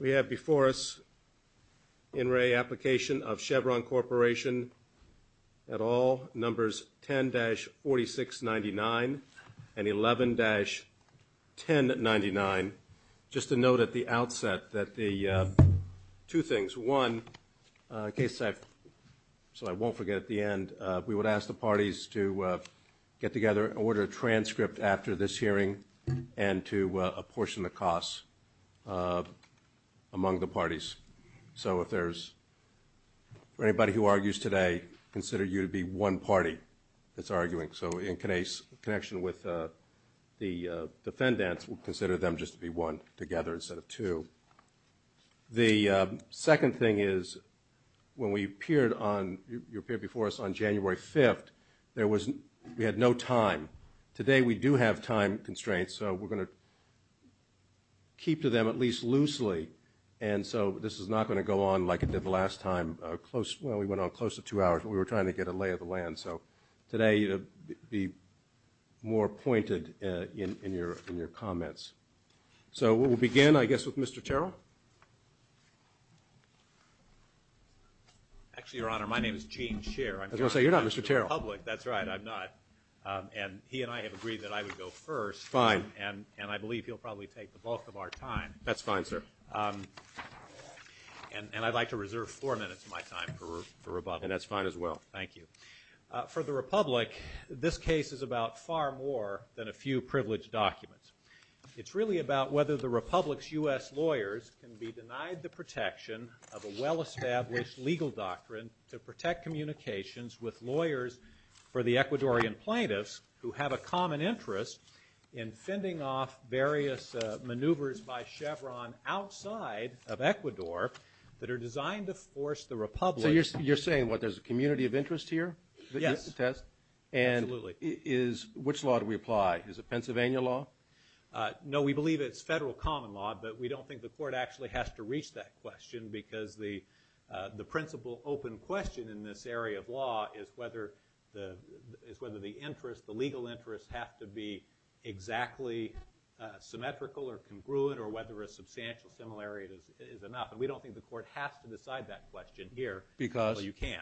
We have before us the in-ray application of Chevron Corporation, at all numbers 10-4699 and 11-1099. Just a note at the outset that the two things, one, KSEC, so I won't forget at the end, we get together and order a transcript after this hearing and to apportion the costs among the parties. So if there's, for anybody who argues today, consider you to be one party that's arguing. So in connection with the defendant, consider them just to be one together instead of two. The second thing is, when we appeared on, you appeared before us on January 5th, there was, we had no time. Today we do have time constraints, so we're going to keep to them at least loosely, and so this is not going to go on like it did the last time, close, well we went on close to two hours, but we were trying to get a lay of the land. So today, be more pointed in your comments. So we'll begin, I guess, with Mr. Terrell. Actually, Your Honor, my name is Gene Shearer, I'm not in the public, that's right, I'm not and he and I have agreed that I would go first, and I believe he'll probably take the bulk of our time. That's fine, sir. And I'd like to reserve four minutes of my time for rebuttal. And that's fine as well. Thank you. For the Republic, this case is about far more than a few privileged documents. It's really about whether the Republic's U.S. lawyers can be denied the protection of a well-established legal doctrine to protect communications with lawyers for the Ecuadorian plaintiffs who have a common interest in fending off various maneuvers by Chevron outside of Ecuador that are designed to force the Republic. So you're saying, what, there's a community of interest here? Yes. And is, which law do we apply, is it Pennsylvania law? No, we believe it's federal common law, but we don't think the court actually has to reach that question because the principal open question in this area of law is whether the interest, the legal interest, has to be exactly symmetrical or congruent or whether a substantial similarity is enough. And we don't think the court has to decide that question here. Because? Well, you can.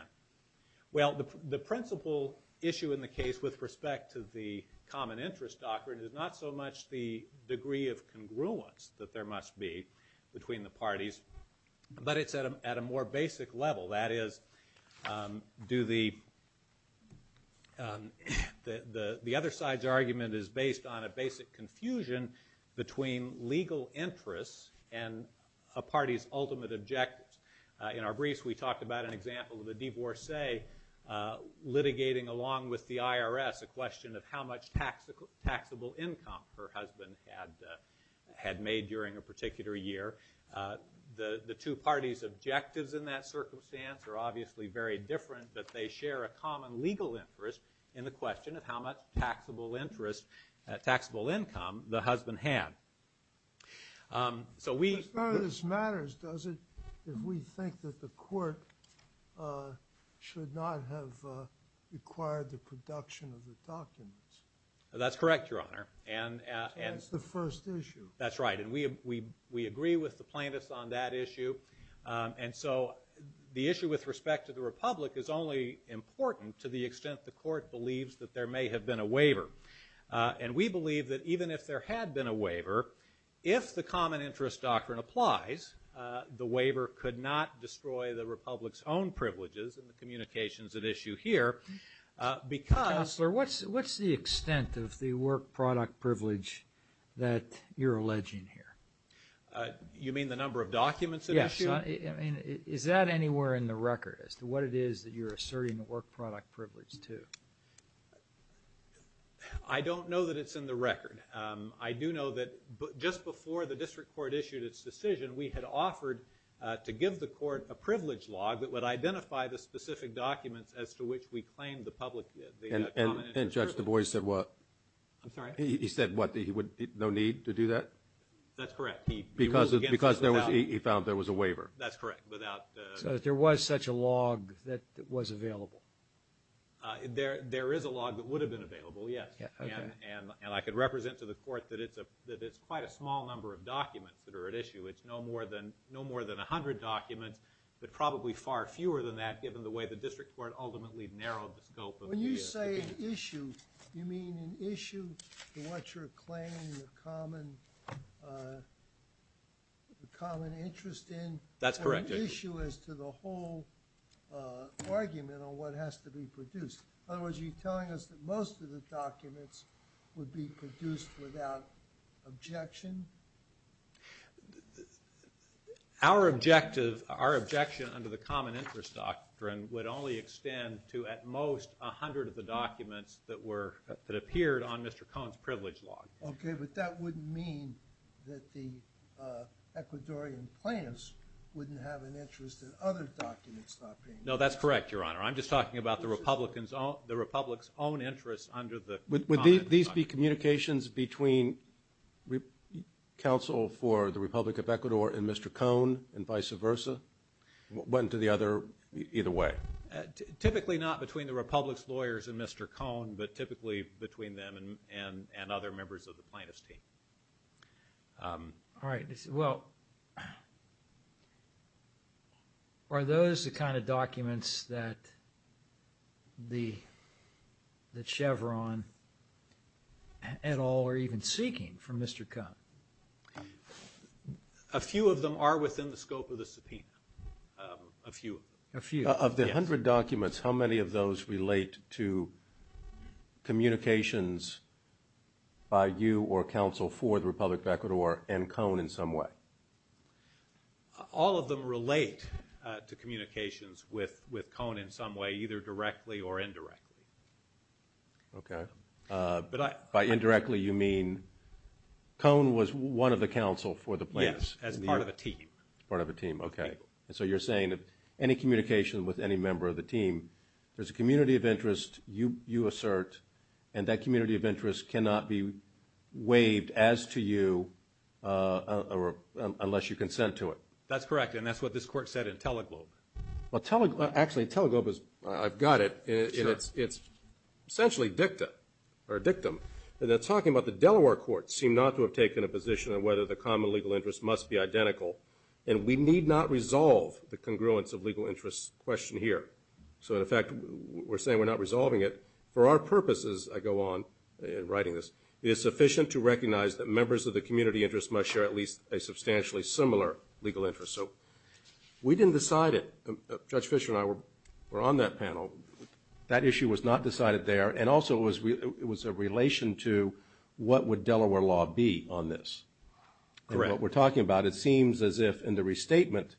Well, the principal issue in the case with respect to the common interest doctrine is not so much the degree of congruence that there must be between the parties, but it's at a more basic level. That is, do the, the other side's argument is based on a basic confusion between legal interests and a party's ultimate objectives. In our brief, we talked about an example of the Divorcee litigating along with the IRS a question of how much taxable income her husband had made during a particular year. The two parties' objectives in that circumstance are obviously very different, but they share a common legal interest in the question of how much taxable interest, taxable income, the husband had. So we... As far as this matters, does it, if we think that the court should not have required the plaintiff to talk to us? That's correct, Your Honor. And, and... That's the first issue. That's right. And we, we, we agree with the plaintiff on that issue. And so the issue with respect to the Republic is only important to the extent the court believes that there may have been a waiver. And we believe that even if there had been a waiver, if the common interest doctrine applies, the waiver could not destroy the Republic's own privileges and the communications at issue here. Because... What's, what's the extent of the work product privilege that you're alleging here? You mean the number of documents that are issued? Yes. I mean, is that anywhere in the record as to what it is that you're asserting the work product privilege to? I don't know that it's in the record. I do know that just before the district court issued its decision, we had offered to give the court a privilege log that would identify the specific documents as to which we claimed the public... And, and Judge DuBois said what? I'm sorry? He said what? He would, no need to do that? That's correct. He... Because, because there was, he found there was a waiver. That's correct. Without the... So if there was such a log that was available? There, there is a log that would have been available, yes. And, and I can represent to the court that it's a, that it's quite a small number of documents that are at issue. It's no more than, no more than a hundred documents, but probably far fewer than that given the way the district court ultimately narrowed the scope of the case. When you say issue, do you mean an issue to what you're claiming a common, a common interest in? That's correct, yes. Or an issue as to the whole argument on what has to be produced? Otherwise, you're telling us that most of the documents would be produced without objection? Our objective, our objection under the common interest doctrine would only extend to at least a third of the documents that were, that appeared on Mr. Cone's privilege log. Okay, but that wouldn't mean that the Ecuadorian plans wouldn't have an interest in other documents doctrine. No, that's correct, Your Honor. I'm just talking about the Republican's own, the Republic's own interest under the common interest doctrine. Would these be communications between counsel for the Republic of Ecuador and Mr. Cone and vice versa? One to the other, either way? Typically not between the Republic's lawyers and Mr. Cone, but typically between them and other members of the plaintiff's team. All right, well, are those the kind of documents that Chevron at all are even seeking from Mr. Cone? A few of them are within the scope of the subpoena, a few. A few? Of the 100 documents, how many of those relate to communications by you or counsel for the Republic of Ecuador and Cone in some way? All of them relate to communications with Cone in some way, either directly or indirectly. Okay. By indirectly, you mean Cone was one of the counsel for the plaintiffs? Yes, as part of a team. As part of a team, okay. So you're saying that any communication with any member of the team, there's a community of interest you assert, and that community of interest cannot be waived as to you unless you consent to it. That's correct, and that's what this court said in Teleglobe. Actually, Teleglobe is... I've got it. It's essentially dicta or dictum, and they're talking about the Delaware courts seem not to have taken a position on whether the common legal interest must be identical, and we need not resolve the congruence of legal interest question here. So, in fact, we're saying we're not resolving it. For our purposes, I go on in writing this, it's sufficient to recognize that members of the community of interest must share at least a substantially similar legal interest. So we didn't decide it. Judge Fisher and I were on that panel. That issue was not decided there, and also it was a relation to what would Delaware law be on this. Correct. In the case that we're talking about, it seems as if in the restatement,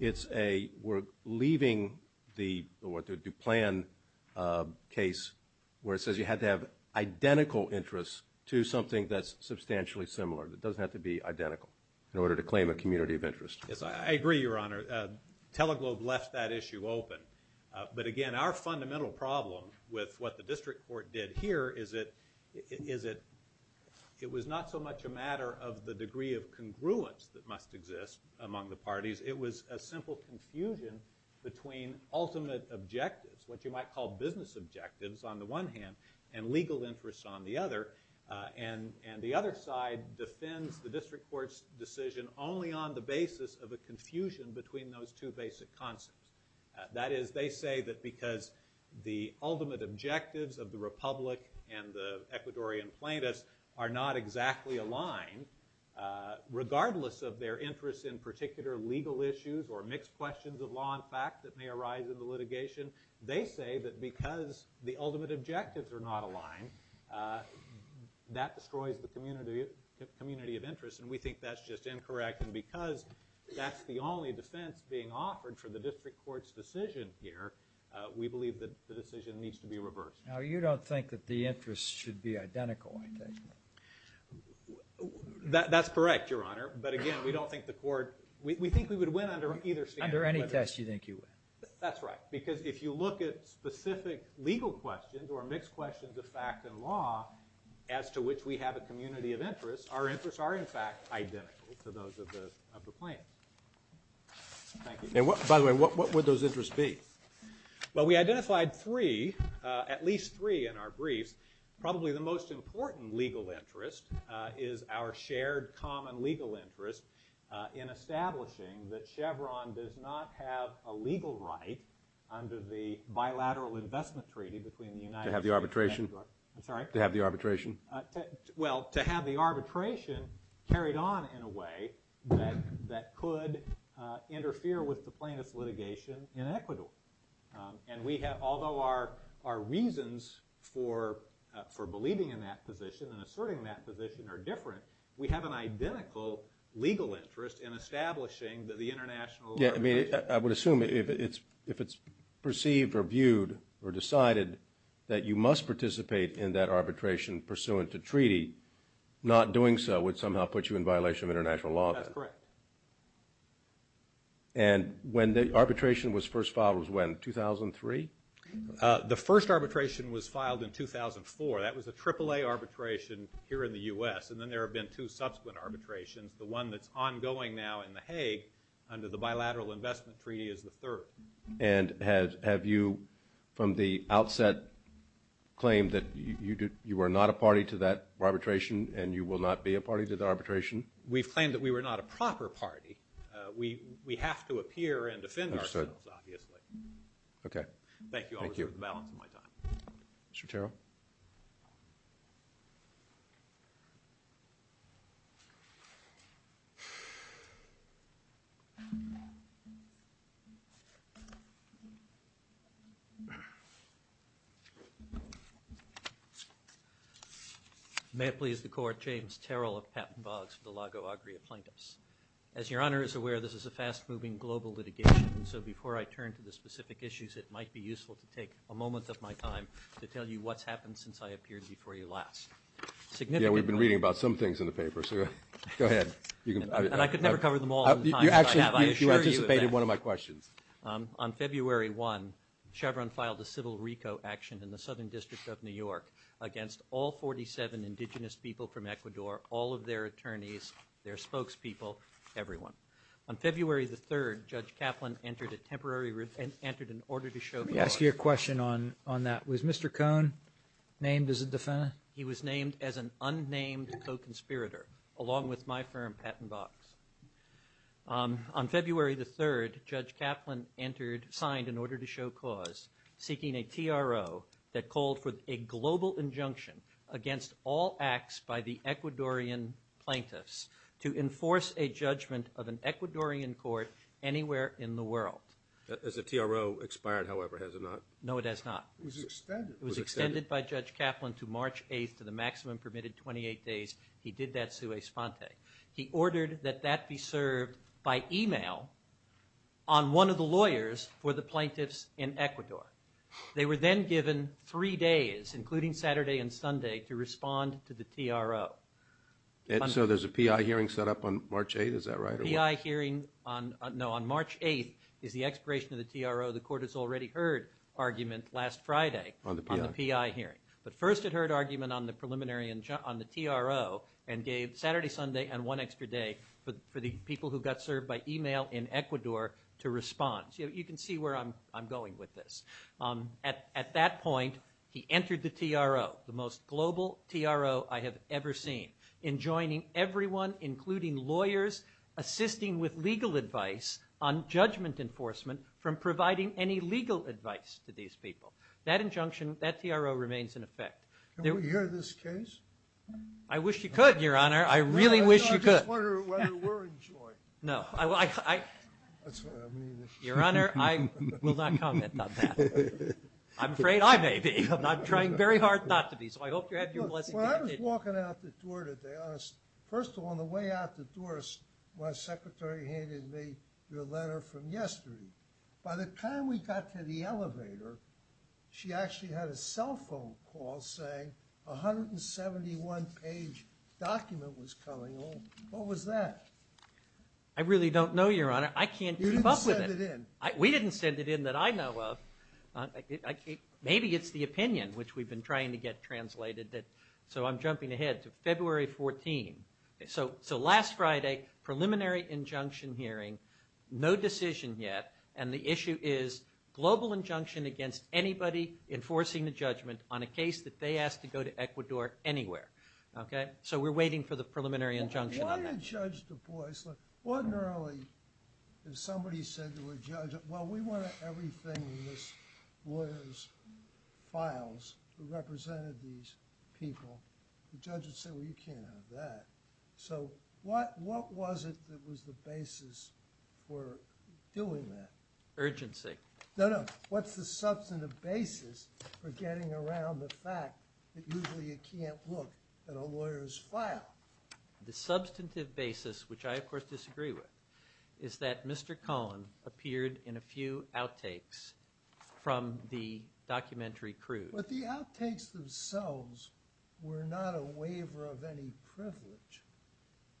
we're leaving the plan case where it says you have to have identical interest to something that's substantially similar. It doesn't have to be identical in order to claim a community of interest. I agree, Your Honor. Teleglobe left that issue open, but again, our fundamental problem with what the district court did here is it was not so much a matter of the degree of congruence that must exist among the parties. It was a simple confusion between ultimate objectives, what you might call business objectives on the one hand, and legal interest on the other, and the other side defends the district court's decision only on the basis of a confusion between those two basic concepts. That is, they say that because the ultimate objectives of the Republic and the Ecuadorian plaintiffs are not exactly aligned, regardless of their interest in particular legal issues or mixed questions of law and facts that may arise in the litigation, they say that because the ultimate objectives are not aligned, that destroys the community of interest, and we think that's just incorrect. And because that's the only defense being offered for the district court's decision here, we believe that the decision needs to be reversed. Now, you don't think that the interest should be identical, I take it? That's correct, Your Honor, but again, we don't think the court, we think we would win under either standard. Under any test you think you would. That's right, because if you look at specific legal questions or mixed questions of fact and law as to which we have a community of interest, our interests are in fact identical to those of the plaintiffs. Thank you. By the way, what would those interests be? Well, we identified three, at least three in our brief. Probably the most important legal interest is our shared common legal interest in establishing that Chevron does not have a legal right under the bilateral investment treaty between the United States and Ecuador. To have the arbitration? I'm sorry? To have the arbitration? Well, to have the arbitration carried on in a way that could interfere with the plaintiff's litigation in Ecuador. And we have, although our reasons for believing in that position and asserting that position are different, we have an identical legal interest in establishing that the international arbitration... Yeah, I mean, I would assume if it's perceived or viewed or decided that you must participate in that arbitration pursuant to treaty, not doing so would somehow put you in violation of international law. That's correct. And when the arbitration was first filed was when, 2003? The first arbitration was filed in 2004. That was a AAA arbitration here in the U.S. And then there have been two subsequent arbitrations. The one that's ongoing now in the Hague under the bilateral investment treaty is the third. And have you, from the outset, claimed that you were not a party to that arbitration and you will not be a party to the arbitration? We've claimed that we were not a proper party. We have to appear and defend ourselves, obviously. Okay. Thank you. I'll reserve the balance of my time. Mr. Terrell? May it please the Court, James Terrell of Captain Boggs for the Lago Agria Plaintiffs. As Your Honor is aware, this is a fast-moving global litigation, and so before I turn to the specific issues, it might be useful to take a moment of my time to tell you what's happened since I appeared before you last. Significant... Yeah, we've been reading about some things in the paper, so go ahead. You actually anticipated one of my questions. On February 1, Chevron filed a civil RICO action in the Southern District of New York against all 47 indigenous people from Ecuador, all of their attorneys, their spokespeople, everyone. On February the 3rd, Judge Kaplan entered a temporary... Let me ask you a question on that. Was Mr. Cohn named as a defendant? He was named as an unnamed co-conspirator, along with my firm, Captain Boggs. On February the 3rd, Judge Kaplan signed an order to show cause, seeking a TRO that called for a global injunction against all acts by the Ecuadorian plaintiffs to enforce a judgment of an Ecuadorian court anywhere in the world. Has the TRO expired, however, has it not? No, it has not. It was extended. It was extended by Judge Kaplan to March 8th for the maximum permitted 28 days. He did that to a sponte. He ordered that that be served by email on one of the lawyers for the plaintiffs in Ecuador. They were then given three days, including Saturday and Sunday, to respond to the TRO. So there's a PI hearing set up on March 8th, is that right? A PI hearing on March 8th is the expiration of the TRO. The court has already heard argument last Friday on the PI hearing. But first it heard argument on the preliminary, on the TRO, and gave Saturday, Sunday, and one extra day for the people who got served by email in Ecuador to respond. You can see where I'm going with this. At that point, he entered the TRO, the most global TRO I have ever seen, enjoining everyone, including lawyers, assisting with legal advice on judgment enforcement from providing any legal advice to these people. That injunction, that TRO remains in effect. Can we hear this case? I wish you could, Your Honor. I really wish you could. I just wonder whether we're enjoined. No. Your Honor, I will not comment on that. I'm afraid I may be. I'm trying very hard not to be. Well, I was walking out the door today. First of all, on the way out the door, my secretary handed me your letter from yesterday. By the time we got to the elevator, she actually had a cell phone call saying a 171-page document was coming home. What was that? I really don't know, Your Honor. I can't keep up with it. You didn't send it in. We didn't send it in that I know of. Maybe it's the opinion, which we've been trying to get translated. So I'm jumping ahead to February 14. So last Friday, preliminary injunction hearing. No decision yet. And the issue is global injunction against anybody enforcing the judgment on a case that they asked to go to Ecuador anywhere. Okay? So we're waiting for the preliminary injunction. Why don't you judge the voice? Ordinarily, if somebody said to a judge, well, we want everything in this lawyer's files to represent these people, the judge would say, well, you can't have that. So what was it that was the basis for doing that? Urgency. No, no. What's the substantive basis for getting around the fact that usually you can't look at a lawyer's file? The substantive basis, which I of course disagree with, is that Mr. Cohen appeared in a few outtakes from the documentary crew. But the outtakes themselves were not a waiver of any privilege.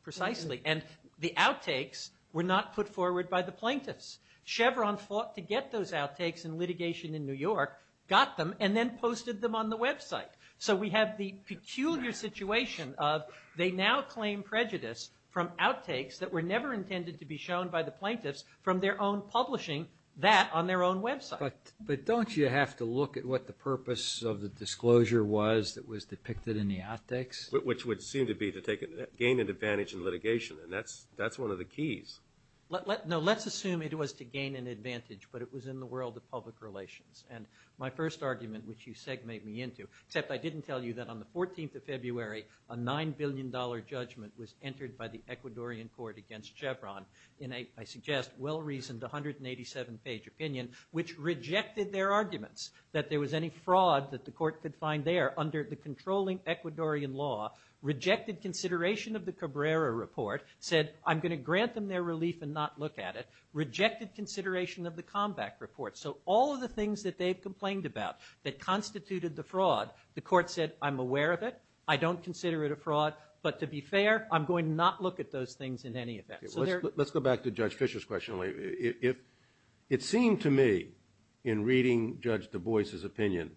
Precisely. And the outtakes were not put forward by the plaintiffs. Chevron fought to get those outtakes in litigation in New York, got them, and then posted them on the website. So we have the peculiar situation of they now claim prejudice from outtakes that were never intended to be shown by the plaintiffs from their own publishing, that on their own website. But don't you have to look at what the purpose of the disclosure was that was depicted in the outtakes? Which would seem to be to gain an advantage in litigation. And that's one of the keys. No, let's assume it was to gain an advantage, but it was in the world of public relations. And my first argument, which you segmated me into, except I didn't tell you that on the 14th of February, a $9 billion judgment was entered by the Ecuadorian court against Chevron in a, I suggest, well-reasoned 187-page opinion, which rejected their arguments that there was any fraud that the court could find there under the controlling Ecuadorian law, rejected consideration of the Cabrera report, said, I'm going to grant them their relief and not look at it, rejected consideration of the Comback report. So all of the things that they've complained about that constituted the fraud, the court said, I'm aware of it. I don't consider it a fraud. But to be fair, I'm going to not look at those things in any event. Let's go back to Judge Fisher's question later. It seemed to me, in reading Judge Du Bois' opinion,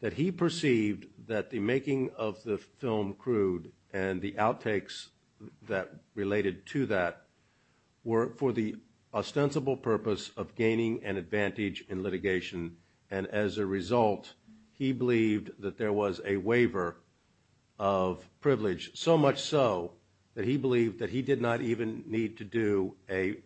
that he perceived that the making of the film, Crude, and the outtakes that related to that were for the ostensible purpose of gaining an advantage in litigation. And as a result, he believed that there was a waiver of privilege, so much so that he believed that he did not even need to do a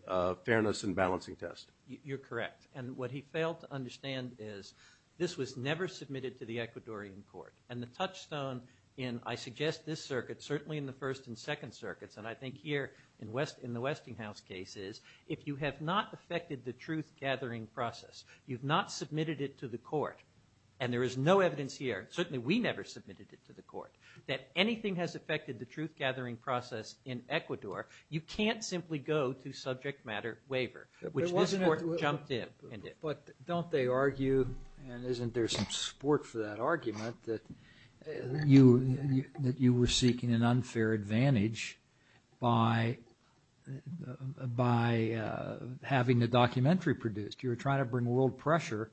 fairness and balancing test. You're correct. And what he failed to understand is this was never submitted to the Ecuadorian court. And the touchstone in, I suggest, this circuit, certainly in the First and Second Circuits, and I think here in the Westinghouse cases, if you have not affected the truth-gathering process, you've not submitted it to the court, and there is no evidence here, certainly we never submitted it to the court, that anything has affected the truth-gathering process in Ecuador, you can't simply go to subject matter waiver, which this court jumped in. But don't they argue, and isn't there some support for that argument, that you were seeking an unfair advantage by having the documentary produced? You're trying to bring world pressure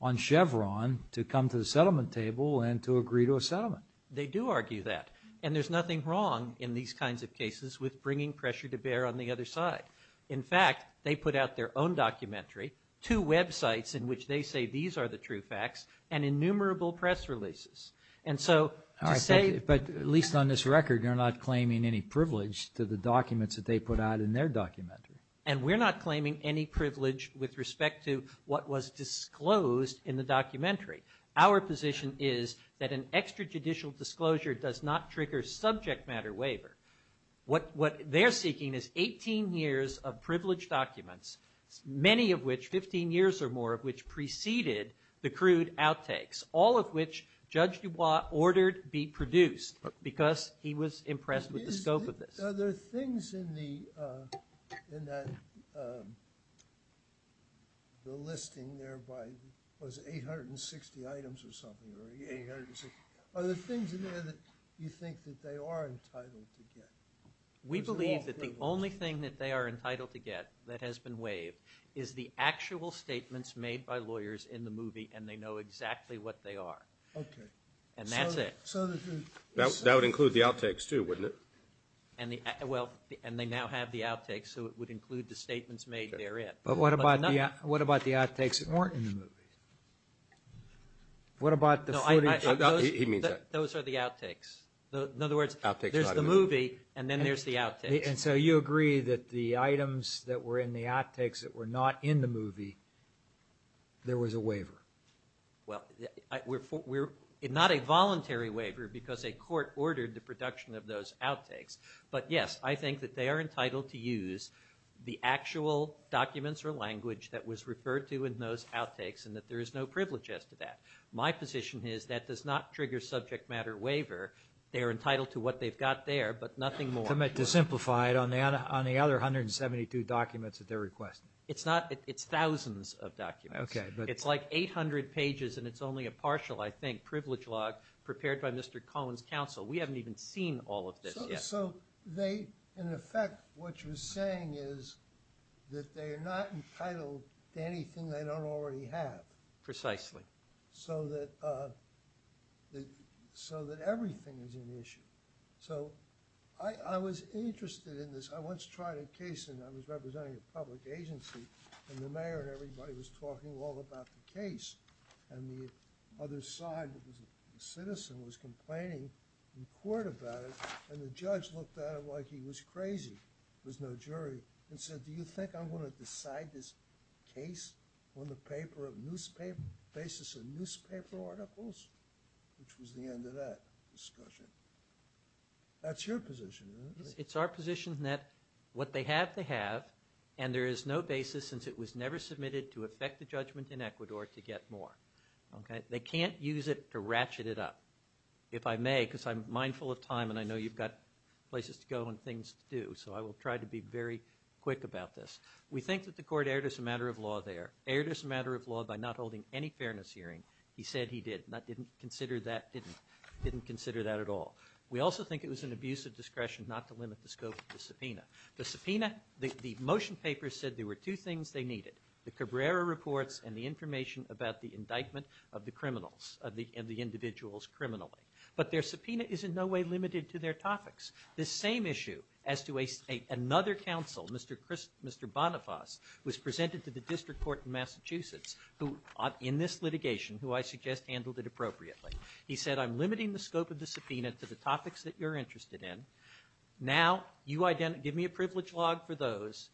on Chevron to come to the settlement table and to agree to a settlement. They do argue that. And there's nothing wrong in these kinds of cases with bringing pressure to bear on the other side. In fact, they put out their own documentary, two websites in which they say these are the true facts, and innumerable press releases. But at least on this record, you're not claiming any privilege to the documents that they put out in their documentary. And we're not claiming any privilege with respect to what was disclosed in the documentary. Our position is that an extrajudicial disclosure does not trigger subject matter waiver. What they're seeking is 18 years of privileged documents, many of which, 15 years or more of which preceded the crude outtakes, all of which Judge DuBois ordered be produced because he was impressed with the scope of this. Are there things in the listing there, was it 860 items or something? Are there things in there that you think that they are entitled to get? We believe that the only thing that they are entitled to get that has been waived is the actual statements made by lawyers in the movie, and they know exactly what they are. Okay. And that's it. So this is... That would include the outtakes too, wouldn't it? Well, and they now have the outtakes, so it would include the statements made therein. But what about the outtakes that weren't in the movie? No, I... He means that. Those are the outtakes. In other words, there's the movie, and then there's the outtakes. And so you agree that the items that were in the outtakes that were not in the movie, there was a waiver? Well, not a voluntary waiver because a court ordered the production of those outtakes. But yes, I think that they are entitled to use the actual documents or language that was referred to in those outtakes and that there is no privilege as to that. My position is that does not trigger subject matter waiver. They are entitled to what they've got there, but nothing more. To simplify it, on the other 172 documents that they're requesting? It's not... It's thousands of documents. Okay. It's like 800 pages, and it's only a partial, I think, privilege log prepared by Mr. Cohen's counsel. We haven't even seen all of this yet. So they... In effect, what you're saying is that they're not entitled to anything they don't already have. Precisely. So that everything is an issue. So I was interested in this. I once tried a case, and I was representing a public agency, and the mayor and everybody was talking all about the case. And the other side, the citizen, was complaining in court about it. And the judge looked at it like he was crazy. There's no jury. And said, do you think I'm going to decide this case on the paper of newspaper... Basis of newspaper articles? Which was the end of that discussion. That's your position, right? It's our position that what they have to have, and there is no basis since it was never submitted to effect a judgment in Ecuador, to get more. Okay? They can't use it to ratchet it up. If I may, because I'm mindful of time, and I know you've got places to go and things to do, so I will try to be very quick about this. We think that the court erred as a matter of law there. Erred as a matter of law by not holding any fairness hearing. He said he did. Didn't consider that at all. We also think it was an abuse of discretion not to limit the scope of the subpoena. The subpoena, the motion papers said there were two things they needed. The Cabrera reports and the information about the indictment of the criminals and the individuals criminally. But their subpoena is in no way limited to their topics. The same issue as to another counsel, Mr. Bonifaz, was presented to the district court in Massachusetts who, in this litigation, who I suggest handled it appropriately. He said, I'm limiting the scope of the subpoena to the topics that you're interested in. Now, you give me a privilege log for those.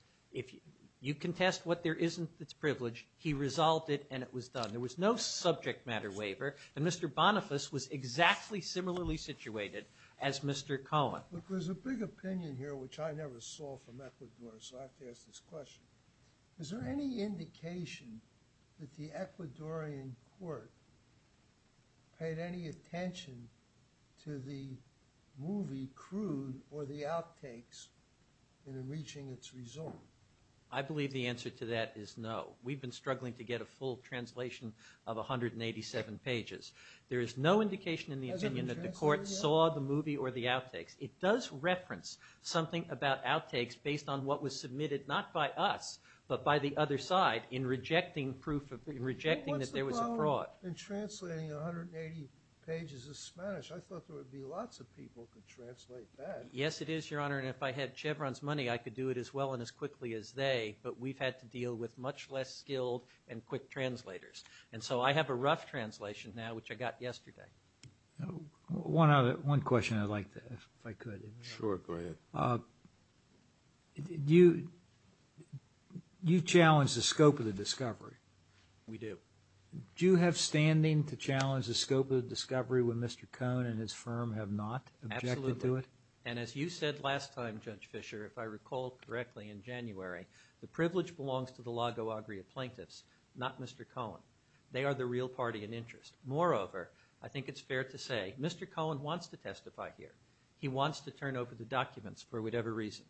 You contest what there isn't that's privileged. He resolved it and it was done. There was no subject matter waiver. And Mr. Bonifaz was exactly similarly situated as Mr. Cohen. Look, there's a big opinion here which I never saw from Ecuador, so I have to ask this question. Is there any indication that the Ecuadorian court paid any attention to the movie, Crude, or the outtakes in reaching its result? I believe the answer to that is no. We've been struggling to get a full translation of 187 pages. There is no indication in the opinion that the court saw the movie or the outtakes. It does reference something about outtakes based on what was submitted not by us, but by the other side in rejecting proof, in rejecting that there was a fraud. In translating 180 pages of Spanish, I thought there would be lots of people who could translate that. Yes, it is, Your Honor, and if I had Chevron's money, I could do it as well and as quickly as they, but we've had to deal with much less skilled and quick translators. And so I have a rough translation now, which I got yesterday. One question I'd like to ask if I could. Sure, go ahead. You challenge the scope of the discovery. We do. Do you have standing to challenge the scope of the discovery when Mr. Cohen and his firm have not objected to it? Absolutely, and as you said last time, Judge Fischer, if I recall correctly in January, the privilege belongs to the Lago Agria plaintiffs, not Mr. Cohen. They are the real party in interest. Moreover, I think it's fair to say Mr. Cohen wants to testify here. He wants to turn over the documents for whatever reason.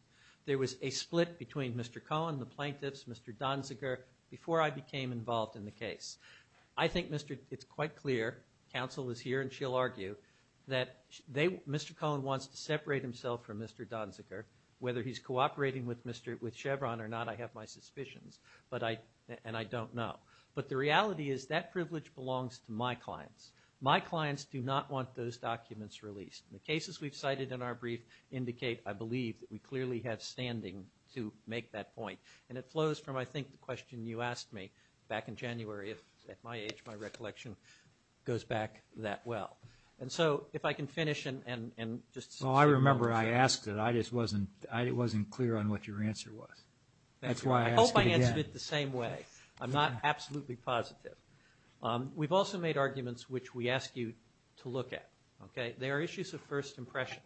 There was a split between Mr. Cohen and the plaintiffs, Mr. Donziger, before I became involved in the case. I think it's quite clear, counsel is here and she'll argue, that Mr. Cohen wants to separate himself from Mr. Donziger. Whether he's cooperating with Chevron or not, I have my suspicions, and I don't know. But the reality is that privilege belongs to my clients. My clients do not want those documents released. The cases we've cited in our brief indicate, I believe, that we clearly have standing to make that point. And it flows from, I think, the question you asked me back in January. At my age, my recollection goes back that well. And so if I can finish and just – Well, I remember I asked it. I just wasn't clear on what your answer was. That's why I asked it again. I hope I answered it the same way. I'm not absolutely positive. We've also made arguments which we ask you to look at. There are issues of first impression,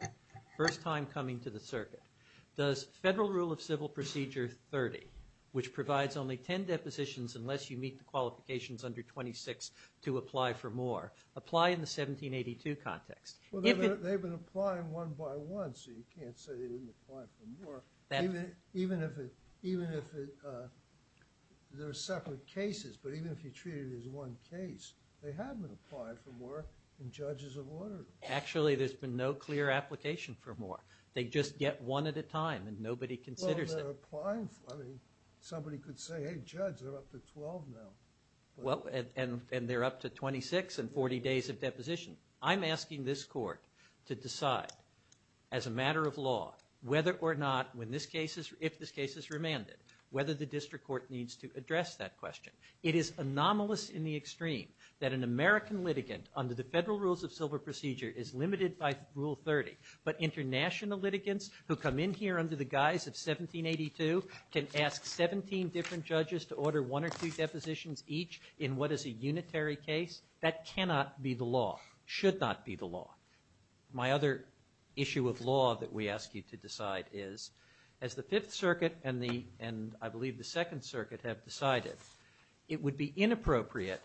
first time coming to the circuit. Does Federal Rule of Civil Procedure 30, which provides only 10 depositions unless you meet the qualifications under 26 to apply for more, apply in the 1782 context? Well, they've been applying one by one, so you can't say they didn't apply for more. Even if there are separate cases, but even if you treat it as one case, they have been applying for more, and judges have ordered it. Actually, there's been no clear application for more. They just get one at a time, and nobody considers it. Well, they're applying for it. Somebody could say, hey, judge, they're up to 12 now. Well, and they're up to 26 and 40 days of deposition. I'm asking this court to decide as a matter of law whether or not, if this case is remanded, whether the district court needs to address that question. It is anomalous in the extreme that an American litigant under the Federal Rules of Civil Procedure is limited by Rule 30, but international litigants who come in here under the guise of 1782 can ask 17 different judges to order one or two depositions each in what is a unitary case. That cannot be the law, should not be the law. My other issue of law that we ask you to decide is, as the Fifth Circuit and I believe the Second Circuit have decided, it would be inappropriate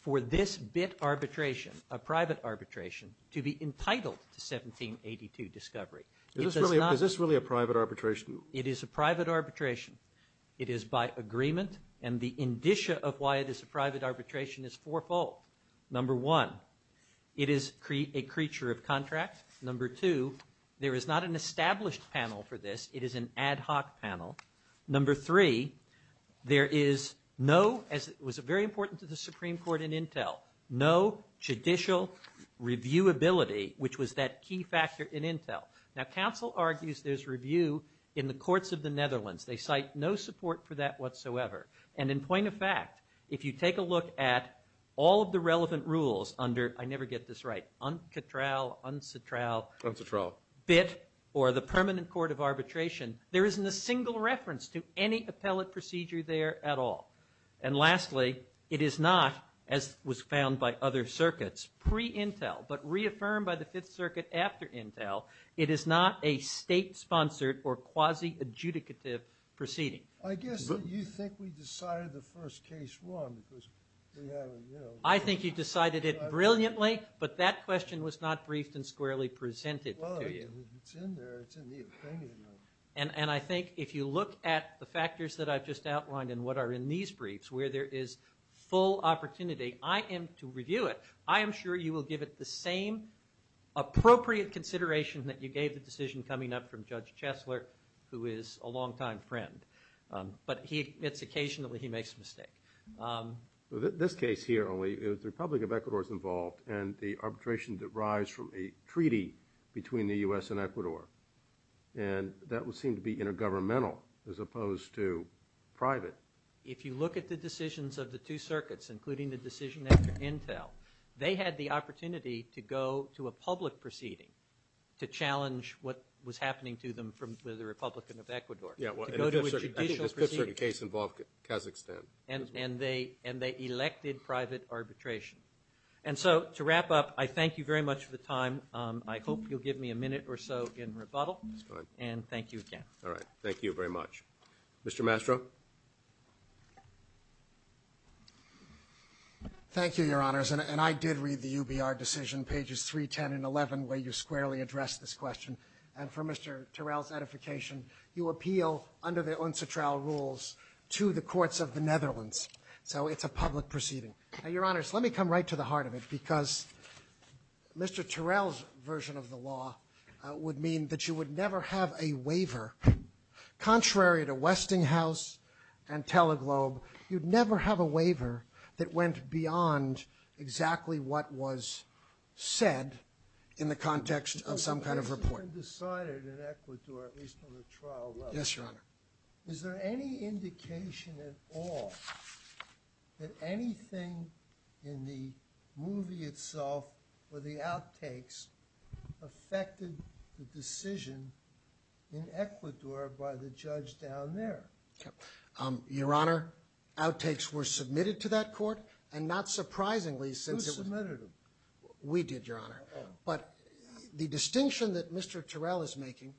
for this arbitration, a private arbitration, to be entitled to 1782 discovery. Is this really a private arbitration? It is a private arbitration. It is by agreement, and the indicia of why it is a private arbitration is fourfold. Number one, it is a creature of contract. Number two, there is not an established panel for this. It is an ad hoc panel. Number three, there is no – as it was very important to the Supreme Court in Intel – no judicial reviewability, which was that key factor in Intel. Now, counsel argues there's review in the courts of the Netherlands. They cite no support for that whatsoever. And in point of fact, if you take a look at all of the relevant rules under – I never get this right – UNCTRAL, UNCTRAL, BIT, or the Permanent Court of Arbitration, there isn't a single reference to any appellate procedure there at all. And lastly, it is not, as was found by other circuits, pre-Intel but reaffirmed by the Fifth Circuit after Intel, it is not a state-sponsored or quasi-adjudicative proceeding. I guess you think we decided the first case won because we have – I think you decided it brilliantly, but that question was not brief and squarely presented to you. It's in there. It's in the opinion. And I think if you look at the factors that I've just outlined and what are in these briefs where there is full opportunity, I am – to review it, I am sure you will give it the same appropriate consideration that you gave the decision coming up from Judge Chesler, who is a longtime friend. But he admits occasionally he makes a mistake. Well, this case here only is the Republic of Ecuador is involved and the arbitration derives from a treaty between the U.S. and Ecuador. And that would seem to be intergovernmental as opposed to private. If you look at the decisions of the two circuits, including the decision after Intel, they had the opportunity to go to a public proceeding to challenge what was happening to them from the Republic of Ecuador. Yeah, well, the Fifth Circuit case involved Kazakhstan. And they elected private arbitration. And so to wrap up, I thank you very much for the time. I hope you'll give me a minute or so in rebuttal. That's good. And thank you again. All right. Thank you very much. Mr. Mastro? Thank you, Your Honors. And I did read the UBR decision, pages 3, 10, and 11, where you squarely addressed this question. And for Mr. Terrell's edification, you appeal under the UNCTRA rules to the courts of the Netherlands. So it's a public proceeding. And, Your Honors, let me come right to the heart of it. Because Mr. Terrell's version of the law would mean that you would never have a waiver, contrary to Westinghouse and Teleglobe. You'd never have a waiver that went beyond exactly what was said in the context of some kind of report. You had decided in Ecuador, at least on the trial level. Yes, Your Honor. Is there any indication at all that anything in the movie itself or the outtakes affected the decision in Ecuador by the judge down there? Your Honor, outtakes were submitted to that court, and not surprisingly... Who submitted them? We did, Your Honor. But the distinction that Mr. Terrell is making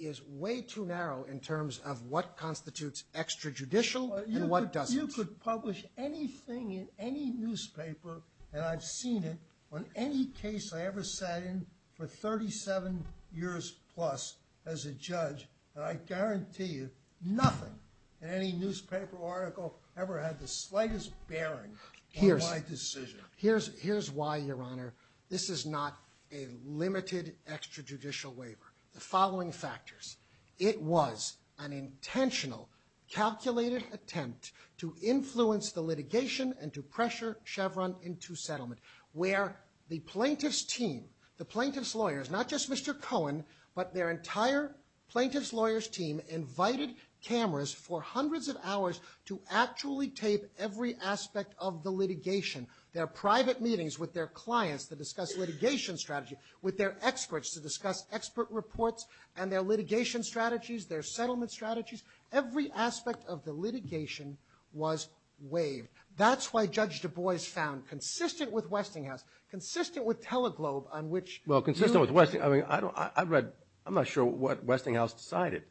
is way too narrow in terms of what constitutes extrajudicial and what doesn't. You could publish anything in any newspaper, and I've seen it on any case I ever sat in for 37 years plus as a judge, and I guarantee you nothing in any newspaper or article ever had the slightest bearing on my decision. Here's why, Your Honor. This is not a limited extrajudicial waiver. The following factors. It was an intentional, calculated attempt to influence the litigation and to pressure Chevron into settlement, where the plaintiff's team, the plaintiff's lawyers, not just Mr. Cohen, but their entire plaintiff's lawyer's team, invited cameras for hundreds of hours to actually tape every aspect of the litigation. Their private meetings with their clients to discuss litigation strategy, with their experts to discuss expert reports, and their litigation strategies, their settlement strategies. Every aspect of the litigation was waived. That's why Judge Du Bois found, consistent with Westinghouse, consistent with Teleglobe, on which... Well, consistent with Westinghouse. I mean, I'm not sure what Westinghouse decided.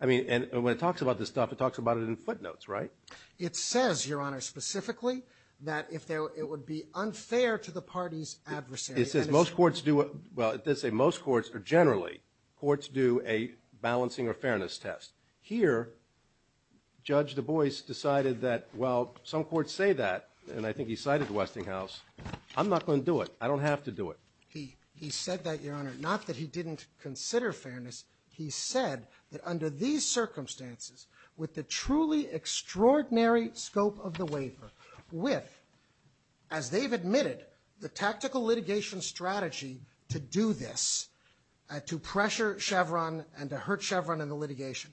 I mean, and when it talks about this stuff, it talks about it in footnotes, right? It says, Your Honor, specifically, that it would be unfair to the party's adversary. It says most courts do... Well, it does say most courts, or generally, courts do a balancing or fairness test. Here, Judge Du Bois decided that, well, some courts say that, and I think he cited Westinghouse. I'm not going to do it. I don't have to do it. He said that, Your Honor. Not that he didn't consider fairness. He said that under these circumstances, with the truly extraordinary scope of the waiver, with, as they've admitted, the tactical litigation strategy to do this, to pressure Chevron and to hurt Chevron in the litigation,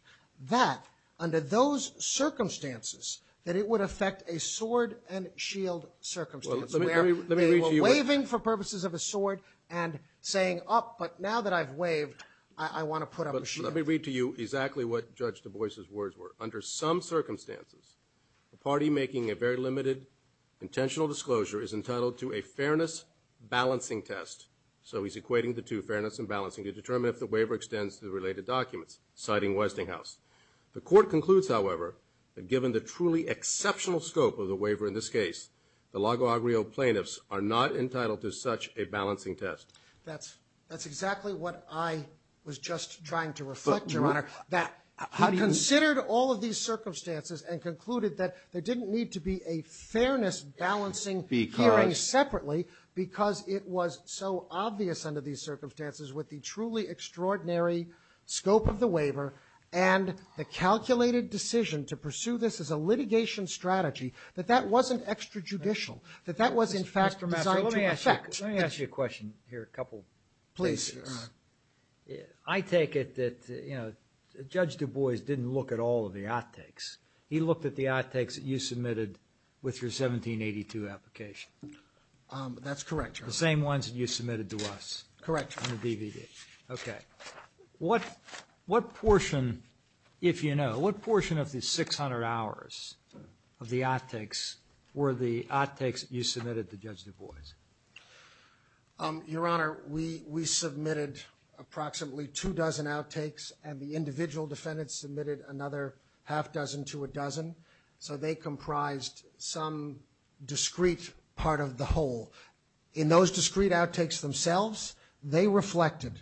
that, under those circumstances, that it would affect a sword and shield circumstance. Well, let me read to you... They were waving for purposes of a sword and saying, Oh, but now that I've waved, I want to put up a shield. Let me read to you exactly what Judge Du Bois' words were. Under some circumstances, a party making a very limited intentional disclosure is entitled to a fairness balancing test. So he's equating the two, fairness and balancing, to determine if the waiver extends to the related documents, citing Westinghouse. The court concludes, however, that given the truly exceptional scope of the waiver in this case, the Lago Agrio plaintiffs are not entitled to such a balancing test. That's exactly what I was just trying to reflect, Your Honor. I considered all of these circumstances and concluded that there didn't need to be a fairness balancing hearing separately because it was so obvious under these circumstances what the truly extraordinary scope of the waiver and the calculated decision to pursue this as a litigation strategy, that that wasn't extrajudicial, that that was, in fact, designed to affect... Let me ask you a question here a couple places. Please. I take it that, you know, Judge Du Bois didn't look at all of the outtakes. He looked at the outtakes that you submitted with your 1782 application. That's correct, Your Honor. The same ones that you submitted to us. Correct. On the DVD. Okay. What portion, if you know, what portion of the 600 hours of the outtakes were the outtakes that you submitted to Judge Du Bois? Your Honor, we submitted approximately two dozen outtakes, and the individual defendants submitted another half dozen to a dozen. So they comprised some discrete part of the whole. In those discrete outtakes themselves, they reflected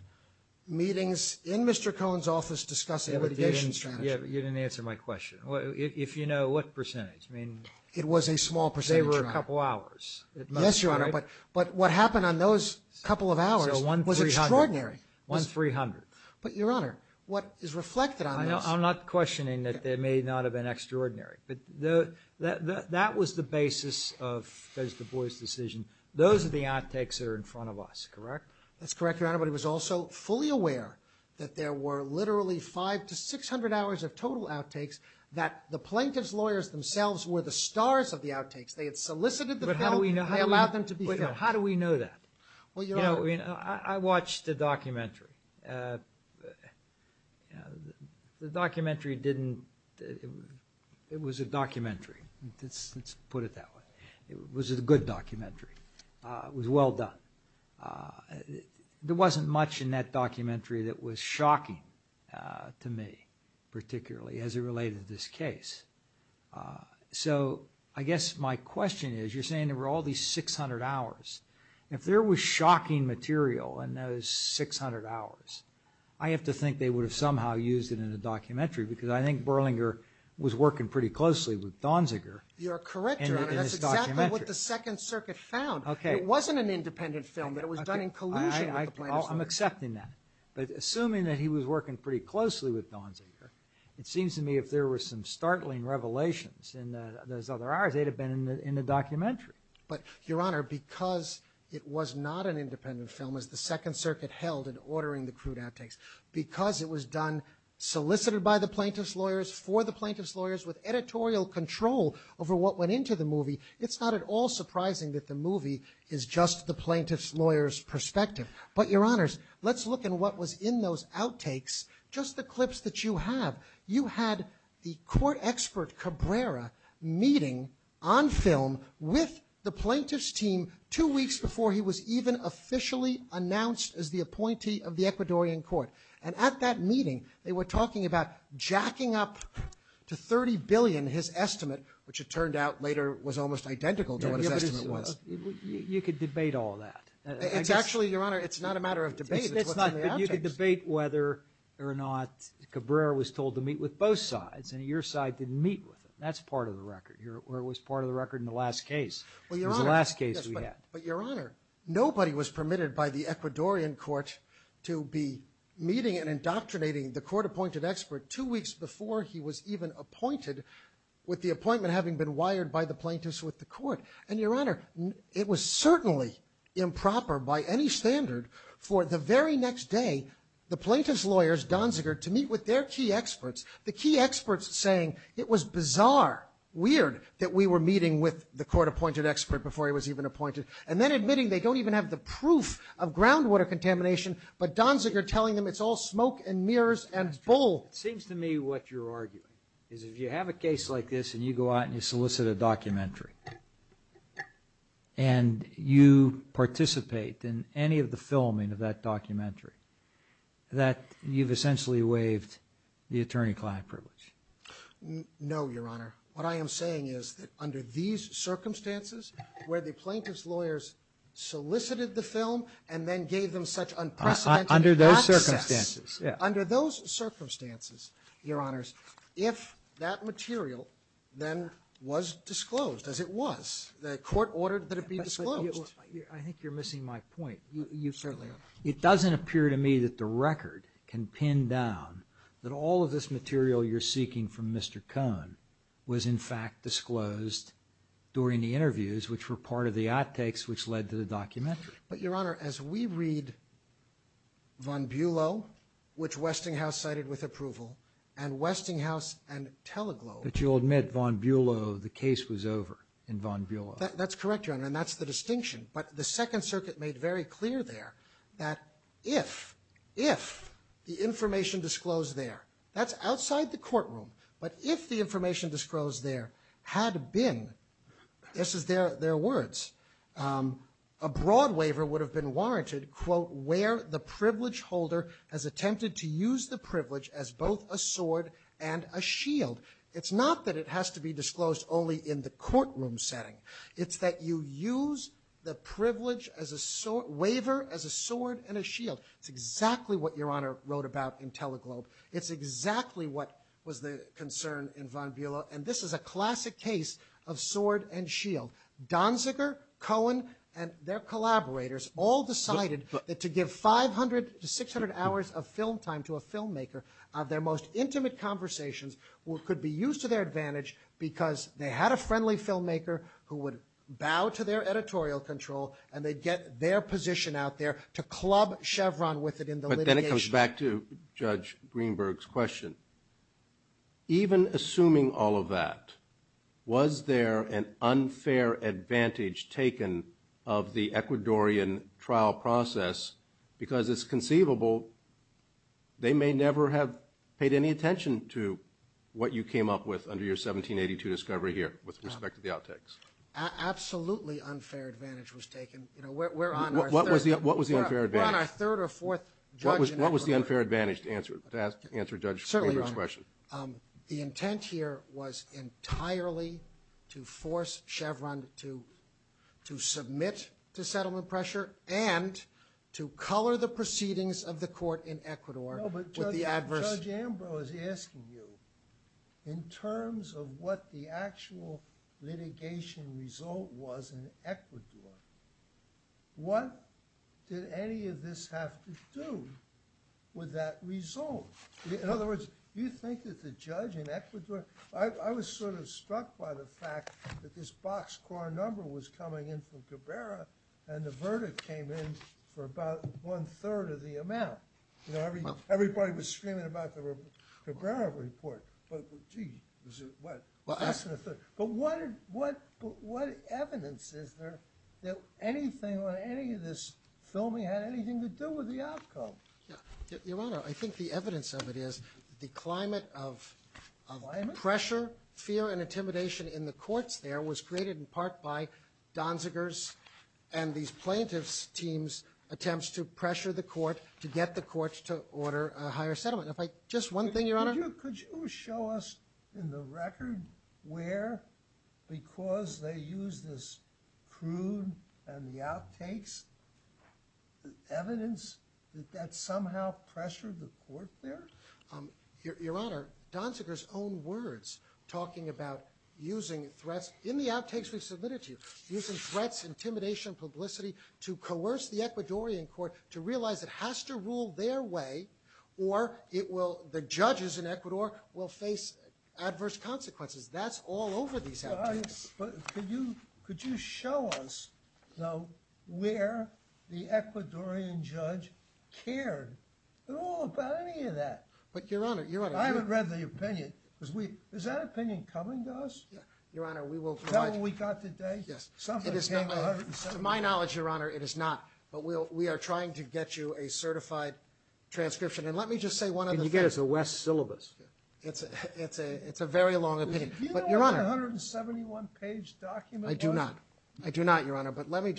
meetings in Mr. Cohen's office discussing the litigation strategy. Yeah, but you didn't answer my question. If you know what percentage, I mean... It was a small percentage. They were a couple hours. Yes, Your Honor, but what happened on those couple of hours was extraordinary. One 300. But, Your Honor, what is reflected on that... I'm not questioning that there may not have been extraordinary, but that was the basis of Judge Du Bois' decision. Those are the outtakes that are in front of us, correct? That's correct, Your Honor, but he was also fully aware that there were literally 500 to 600 hours of total outtakes that the plaintiff's lawyers themselves were the stars of the outtakes. They had solicited the plaintiff. But how do we know that? They allowed them to be... How do we know that? Well, Your Honor... I watched the documentary. The documentary didn't... It was a documentary. Let's put it that way. It was a good documentary. It was well done. There wasn't much in that documentary that was shocking to me, particularly as it related to this case. So, I guess my question is, you're saying there were all these 600 hours. If there was shocking material in those 600 hours, I have to think they would have somehow used it in a documentary because I think Berlinger was working pretty closely with Donziger. You're correct, Your Honor. That's exactly what the Second Circuit found. It wasn't an independent film, but it was done in collusion with the plaintiffs. I'm accepting that. But assuming that he was working pretty closely with Donziger, it seems to me if there were some startling revelations in those other hours, they'd have been in the documentary. But, Your Honor, because it was not an independent film, as the Second Circuit held in ordering the crude outtakes, because it was done, solicited by the plaintiff's lawyers, for the plaintiff's lawyers, with editorial control over what went into the movie, it's not at all surprising that the movie is just the plaintiff's lawyer's perspective. But, Your Honors, let's look at what was in those outtakes, just the clips that you have. You had the court expert, Cabrera, meeting on film with the plaintiff's team two weeks before he was even officially announced as the appointee of the Ecuadorian court. And at that meeting, they were talking about jacking up to $30 billion, his estimate, which it turned out later was almost identical to what his estimate was. You could debate all that. Actually, Your Honor, it's not a matter of debate. You could debate whether or not Cabrera was told to meet with both sides, and your side didn't meet with him. That's part of the record, or it was part of the record in the last case. In the last case, yes. But, Your Honor, nobody was permitted by the Ecuadorian court to be meeting and indoctrinating the court-appointed expert two weeks before he was even appointed, with the appointment having been wired by the plaintiffs with the court. And, Your Honor, it was certainly improper by any standard for the very next day, the plaintiff's lawyers, Donziger, to meet with their key experts, the key experts saying, it was bizarre, weird, that we were meeting with the court-appointed expert before he was even appointed, and then admitting they don't even have the proof of groundwater contamination, but Donziger telling them it's all smoke and mirrors and bull. It seems to me what you're arguing is if you have a case like this, and you go out and you solicit a documentary, and you participate in any of the filming of that documentary, that you've essentially waived the attorney-client privilege. No, Your Honor. What I am saying is, under these circumstances, where the plaintiff's lawyers solicited the film and then gave them such unprecedented access... Under those circumstances. Under those circumstances, Your Honors, if that material then was disclosed as it was, the court ordered that it be disclosed. I think you're missing my point. You certainly are. It doesn't appear to me that the record can pin down that all of this material you're seeking from Mr. Cohn was in fact disclosed during the interviews, which were part of the outtakes which led to the documentary. But, Your Honor, as we read Von Bulow, which Westinghouse cited with approval, and Westinghouse and Teleglo... But you'll admit Von Bulow, the case was over in Von Bulow. That's correct, Your Honor, and that's the distinction. But the Second Circuit made very clear there that if the information disclosed there, that's outside the courtroom, but if the information disclosed there had been, this is their words, a broad waiver would have been warranted, quote, where the privilege holder has attempted to use the privilege as both a sword and a shield. It's not that it has to be disclosed only in the courtroom setting. It's that you use the privilege as a... It's exactly what Your Honor wrote about in Teleglo. It's exactly what was the concern in Von Bulow, and this is a classic case of sword and shield. Donziger, Cohn, and their collaborators all decided that to give 500 to 600 hours of film time to a filmmaker, their most intimate conversations could be used to their advantage because they had a friendly filmmaker who would bow to their editorial control and they'd get their position out there to club Chevron with it in the litigation. But then it comes back to Judge Greenberg's question. Even assuming all of that, was there an unfair advantage taken of the Ecuadorian trial process because it's conceivable they may never have paid any attention to what you came up with under your 1782 discovery here with respect to the outtakes? Absolutely unfair advantage was taken. What was the unfair advantage? What was the unfair advantage to answer Judge Greenberg's question? The intent here was entirely to force Chevron to submit to settlement pressure and to color the proceedings of the court in Ecuador with the adverse... Judge Ambrose is asking you in terms of what the actual litigation result was in Ecuador. What did any of this have to do with that result? In other words, do you think that the judge in Ecuador... I was sort of struck by the fact that this boxcar number was coming in from Cabrera and the verdict came in for about one third of the amount. Everybody was screaming about the Cabrera report. But what evidence is there that anything on any of this filming had anything to do with the outcome? Your Honor, I think the evidence of it is the climate of pressure, fear and intimidation in the courts there was created in part by Donziger's and the plaintiff's team's attempts to pressure the court to get the courts to order a higher settlement. Just one thing, Your Honor. Could you show us in the record where, because they used this crude and the outtakes, evidence that that somehow pressured the court there? Your Honor, Donziger's own words talking about using threats in the outtakes of this litigation, using threats, intimidation, publicity to coerce the Ecuadorian court to realize it has to rule their way or the judges in Ecuador will face adverse consequences. That's all over these outtakes. Could you show us where the Ecuadorian judge cared at all about any of that? I regret the opinion. Is that opinion coming to us? Is that what we got today? To my knowledge, Your Honor, it is not. But we are trying to get you a certified transcription. And let me just say one other thing. It's a very long opinion. Do you have a 171-page document? I do not, Your Honor. But let me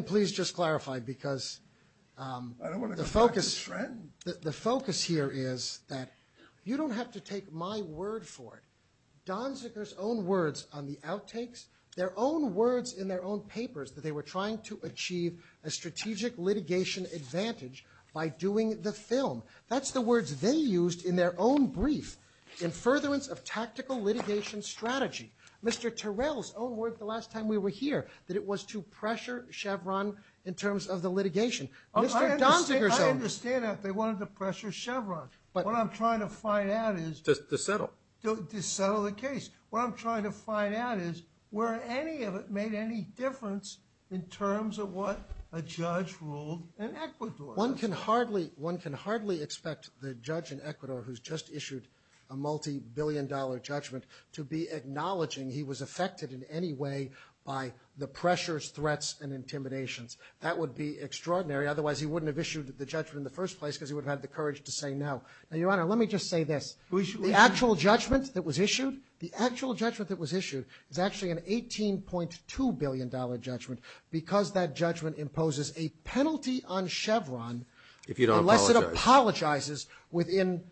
please just clarify because the focus here is that you don't have to take my word for it. Donziger's own words on the outtakes, their own words in their own papers that they were trying to achieve a strategic litigation advantage by doing the film. That's the words they used in their own brief in furtherance of tactical litigation strategy. Mr. Terrell's own words the last time we were here that it was to pressure Chevron in terms of the litigation. I understand that they wanted to pressure Chevron. What I'm trying to find out is... To settle the case. What I'm trying to find out is whether any of it made any difference in terms of what a judge ruled in Ecuador. One can hardly expect the judge in Ecuador who's just issued a multibillion-dollar judgment to be acknowledging he was affected in any way by the pressures, threats, and intimidations. That would be extraordinary. Otherwise, he wouldn't have issued the judgment in the first place because he wouldn't have had the courage to say no. Now, Your Honor, let me just say this. The actual judgment that was issued is actually an $18.2 billion judgment because that judgment imposes a penalty on Chevron unless it apologizes within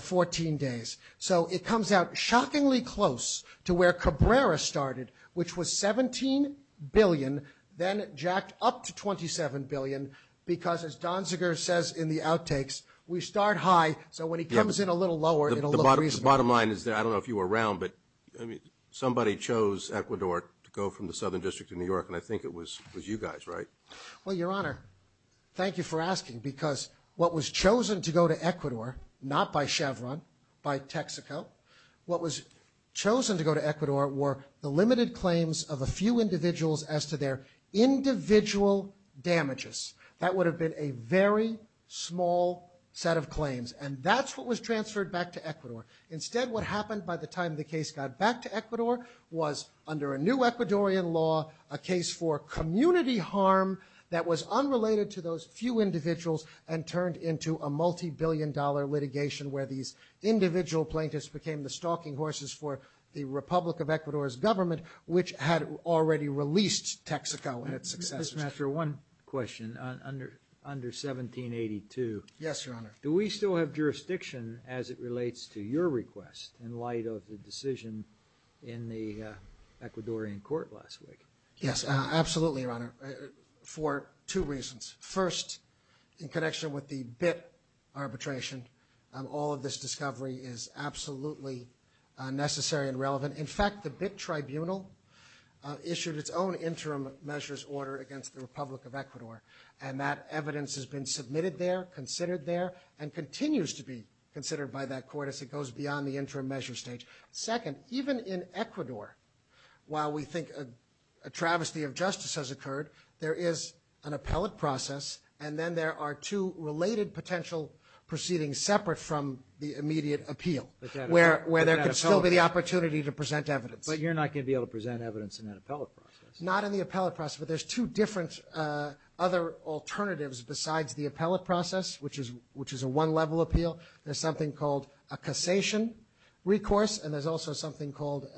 14 days. So it comes out shockingly close to where Cabrera started which was $17 billion, then jacked up to $27 billion because, as Don Ziger says in the outtakes, we start high, so when he comes in a little lower... The bottom line is that, I don't know if you were around, but somebody chose Ecuador to go from the Southern District to New York and I think it was you guys, right? Well, Your Honor, thank you for asking because what was chosen to go to Ecuador, not by Chevron, by Texaco, what was chosen to go to Ecuador were the limited claims of a few individuals as to their individual damages. That would have been a very small set of claims and that's what was transferred back to Ecuador. Instead, what happened by the time the case got back to Ecuador was, under a new Ecuadorian law, a case for community harm that was unrelated to those few individuals and turned into a multi-billion dollar litigation where these individual plaintiffs became the stalking horses for the Republic of Ecuador's government which had already released Texaco in its succession. Mr. Mastro, one question. Under 1782, do we still have jurisdiction as it relates to your request in light of the decision in the Ecuadorian court last week? Yes, absolutely, Your Honor, for two reasons. First, in connection with the BIT arbitration, all of this discovery is absolutely necessary and relevant. In fact, the BIT tribunal issued its own interim measures order against the Republic of Ecuador and that evidence has been submitted there, considered there, and continues to be considered by that court as it goes beyond the interim measure stage. Second, even in Ecuador, while we think a travesty of justice has occurred, there is an appellate process and then there are two related potential proceedings separate from the immediate appeal where there could still be the opportunity to present evidence. But you're not going to be able to present evidence in that appellate process? Not in the appellate process, but there's two different other alternatives besides the appellate process, which is a one-level appeal. There's something called a cassation recourse and there's also something called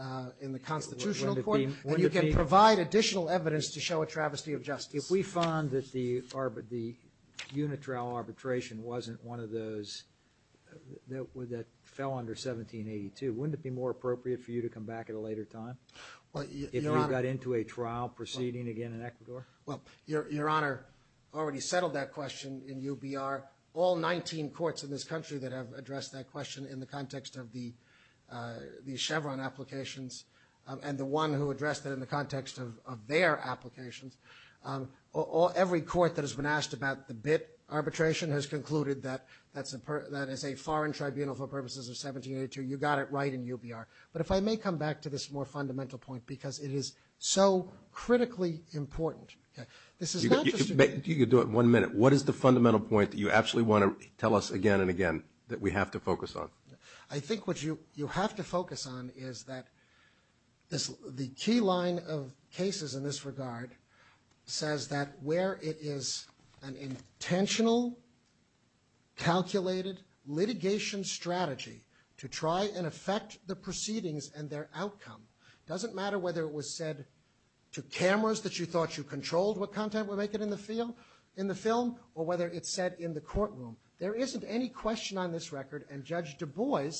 in the constitutional court where you can provide additional evidence to show a travesty of justice. If we found that the unit trial arbitration wasn't one of those that fell under 1782, wouldn't it be more appropriate for you to come back at a later time? If we got into a trial proceeding again in Ecuador? Well, Your Honor already settled that question in UBR. All 19 courts in this country that have addressed that question in the context of the Chevron applications and the one who addressed it in the context of their applications, every court that has been asked about the BIT arbitration has concluded that as a foreign tribunal for purposes of 1782, you got it right in UBR. But if I may come back to this more fundamental point because it is so critically important. If you could do it one minute, what is the fundamental point that you actually want to tell us again and again that we have to focus on? I think what you have to focus on is that the key line of cases in this regard says that where it is an intentional, calculated litigation strategy to try and affect the proceedings and their outcome. It doesn't matter whether it was said to cameras that you thought you controlled what content were making in the film or whether it said in the courtroom. There isn't any question on this record and Judge Du Bois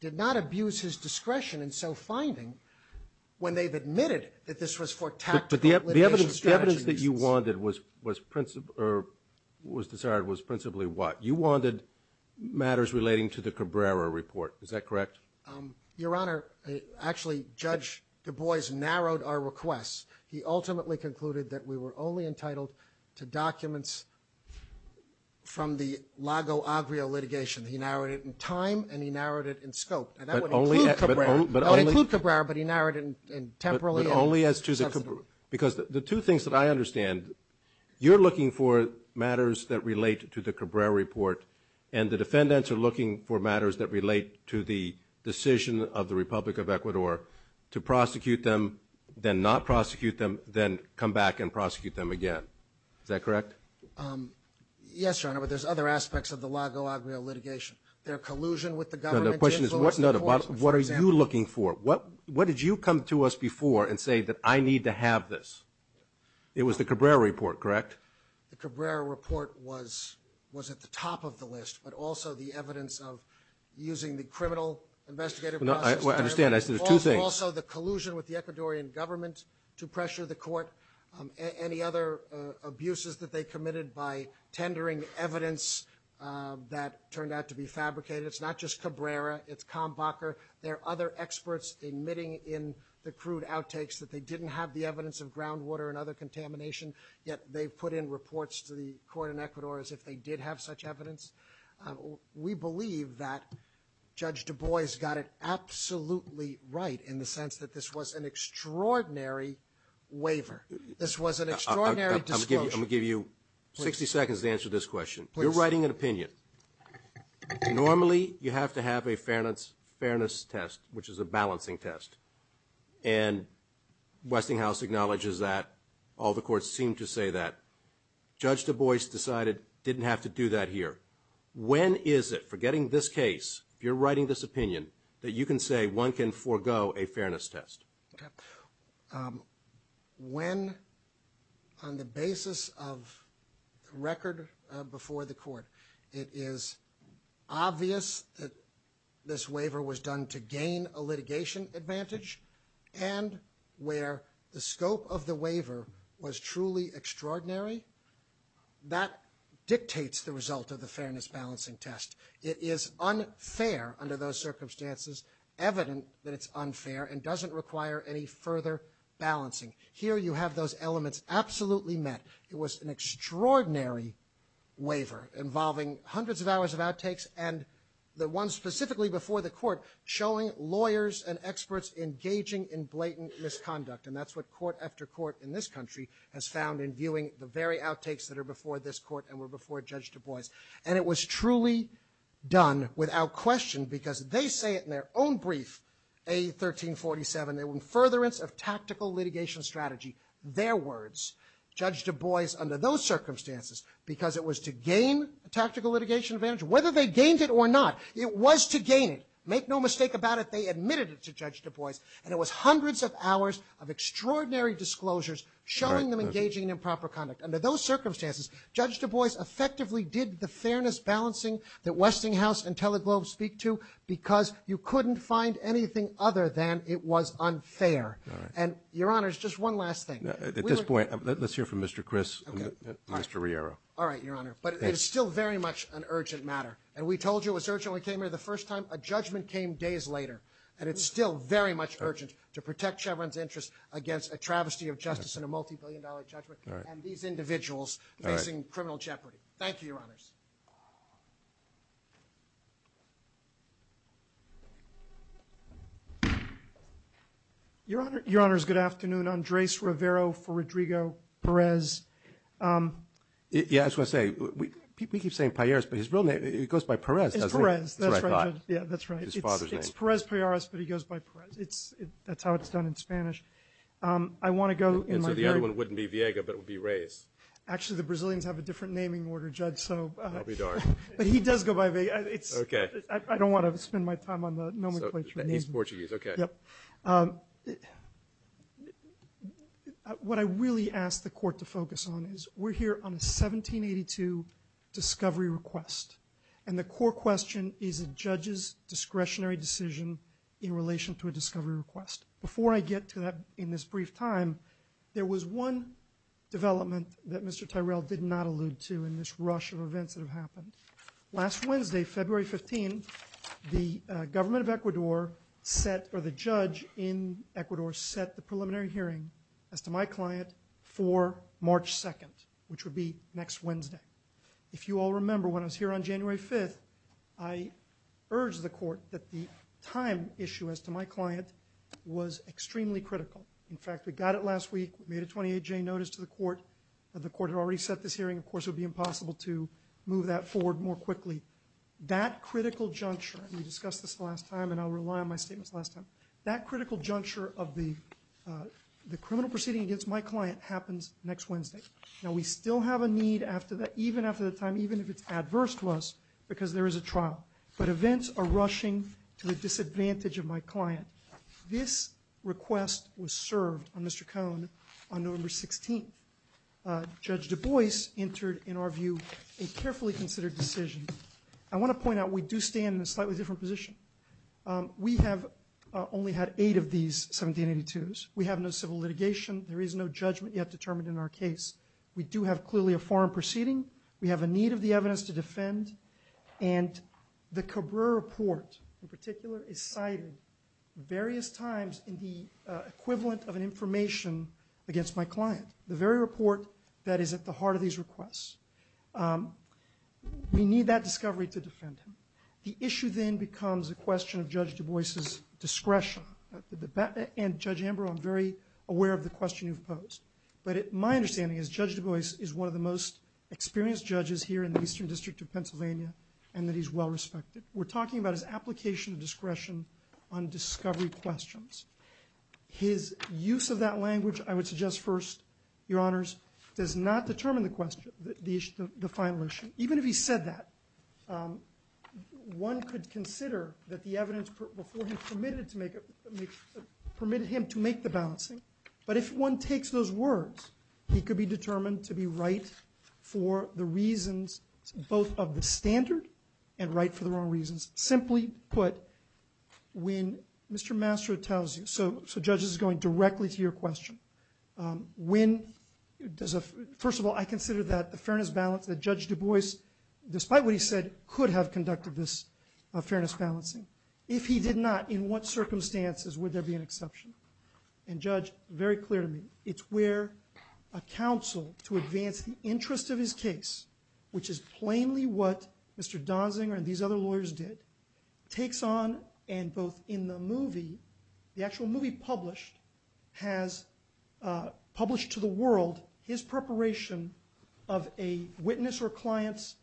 did not abuse his discretion in self-finding when they admitted that this was for tactical litigation strategy. But the evidence that you wanted was principally what? You wanted matters relating to the Cabrera report. Is that correct? Your Honor, actually, Judge Du Bois narrowed our requests. He ultimately concluded that we were only entitled to documents from the Lago Agrio litigation. He narrowed it in time and he narrowed it in scope. That would include Cabrera, but he narrowed it temporally. But only as to the Cabrera? Because the two things that I understand, you're looking for matters that relate to the Cabrera report and the defendants are looking for matters that relate to the decision of the Republic of Ecuador to prosecute them, then not prosecute them, then come back and prosecute them again. Is that correct? Yes, Your Honor, but there's other aspects of the Lago Agrio litigation. There's collusion with the government. What are you looking for? What did you come to us before and say that I need to have this? It was the Cabrera report, correct? The Cabrera report was at the top of the list, but also the evidence of using the criminal investigative process. I understand. I said two things. Also the collusion with the Ecuadorian government to pressure the court. Any other abuses that they committed by tendering evidence that turned out to be fabricated. It's not just Cabrera, it's Kambacher. There are other experts admitting in the crude outtakes that they didn't have the evidence of groundwater and other contamination, yet they've put in reports to the court in Ecuador as if they did have such evidence. We believe that Judge Du Bois got it absolutely right in the sense that this was an extraordinary waiver. This was an extraordinary disclosure. I'm going to give you 60 seconds to answer this question. You're writing an opinion. Normally you have to have a fairness test, which is a balancing test, and Westinghouse acknowledges that, all the courts seem to say that. Judge Du Bois decided he didn't have to do that here. When is it, forgetting this case, you're writing this opinion, that you can say one can forego a fairness test? When, on the basis of record before the court, it is obvious that this waiver was done to gain a litigation advantage and where the scope of the waiver was truly extraordinary, that dictates the result of the fairness balancing test. It is unfair under those circumstances, evident that it's unfair and doesn't require any further balancing. Here you have those elements absolutely met. It was an extraordinary waiver involving hundreds of hours of outtakes and the ones specifically before the court showing lawyers and experts engaging in blatant misconduct. And that's what court after court in this country has found in viewing the very outtakes that are before this court and were before Judge Du Bois. And it was truly done without question because they say it in their own brief, A1347, a furtherance of tactical litigation strategy. Their words. Judge Du Bois, under those circumstances, because it was to gain a tactical litigation advantage, whether they gained it or not, it was to gain it. Make no mistake about it, they admitted it to Judge Du Bois and it was hundreds of hours of extraordinary disclosures showing them engaging in improper conduct. Under those circumstances, Judge Du Bois effectively did the fairness balancing that Westinghouse and Teleglobe speak to because you couldn't find anything other than it was unfair. And, Your Honor, it's just one last thing. At this point, let's hear from Mr. Chris and Mr. Riero. All right, Your Honor, but it is still very much an urgent matter. And we told you it was urgent when we came here the first time. A judgment came days later, and it's still very much urgent to protect Chevron's interest against a travesty of justice and a multi-billion dollar judgment and these individuals facing criminal jeopardy. Thank you, Your Honors. Your Honors, good afternoon. I'm Drace Rivero for Rodrigo Perez. Yeah, I was going to say, we keep saying Peyeris, but his real name, it goes by Perez, that's what I thought. Yeah, that's right. It's Perez Peyeris, but he goes by Perez. That's how it's done in Spanish. So the other one wouldn't be Viega, but it would be Reyes. Actually, the Brazilians have a different naming order, Judge, but he does go by Viega. I don't want to spend my time on the nomenclature. East Portuguese, okay. What I really ask the Court to focus on is we're here on a 1782 discovery request, and the court question is a judge's discretionary decision in relation to a discovery request. Before I get to that in this brief time, there was one development that Mr. Tyrell did not allude to in this rush of events that have happened. Last Wednesday, February 15, the government of Ecuador set, or the judge in Ecuador set the preliminary hearing as to my client for March 2nd, which would be next Wednesday. If you all remember, when I was here on January 5th, I urged the Court that the time issue as to my client was extremely critical. In fact, we got it last week. We made a 28-day notice to the Court. The Court had already set this hearing. Of course, it would be impossible to move that forward more quickly. That critical juncture, we discussed this last time and I'll rely on my statements last time, that critical juncture of the criminal proceeding against my client happens next Wednesday. Now, we still have a need after that, even after the time, even if it's adverse to us, because there is a trial. But events are rushing to the disadvantage of my client. This request was served on November 16th. Judge Du Bois entered, in our view, a carefully considered decision. I want to point out we do stand in a slightly different position. We have only had 8 of these 1782s. We have no civil litigation. There is no judgment yet determined in our case. We do have clearly a foreign proceeding. We have a need of the evidence to defend. And the Cabrera Report, in particular, is cited various times in the equivalent of an information against my client. The very report that is at the heart of these requests. We need that discovery to defend him. The issue then becomes a question of Judge Du Bois' discretion. And Judge Amber, I'm very aware of the question you've posed. But my understanding is Judge Du Bois is one of the most experienced judges here in the Eastern District of Pennsylvania and that he's well respected. We're talking about his application of discretion on discovery questions. His use of that language, I would suggest first, Your Honors, does not determine the final issue. Even if he said that, one could consider that the evidence before he permitted him to make the balancing. But if one takes those words, he could be determined to be right for the reasons both of the standard and right for the wrong reasons. Simply put, when Mr. Mastro tells you, so Judge, this is going directly to your question. First of all, I consider that the fairness balance that Judge Du Bois, despite what he said, could have conducted this fairness balancing. If he did not, in what circumstances would there be an exception? And Judge, very clearly, it's where a counsel to advance the interest of his case, which is plainly what Mr. Donziger and these other lawyers did, takes on and both in the movie, the actual movie published, has published to the world his preparation of a witness or client's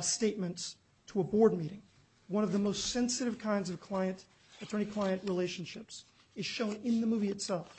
statements to a board meeting. One of the most sensitive kinds of client-to-client relationships is shown in the movie itself.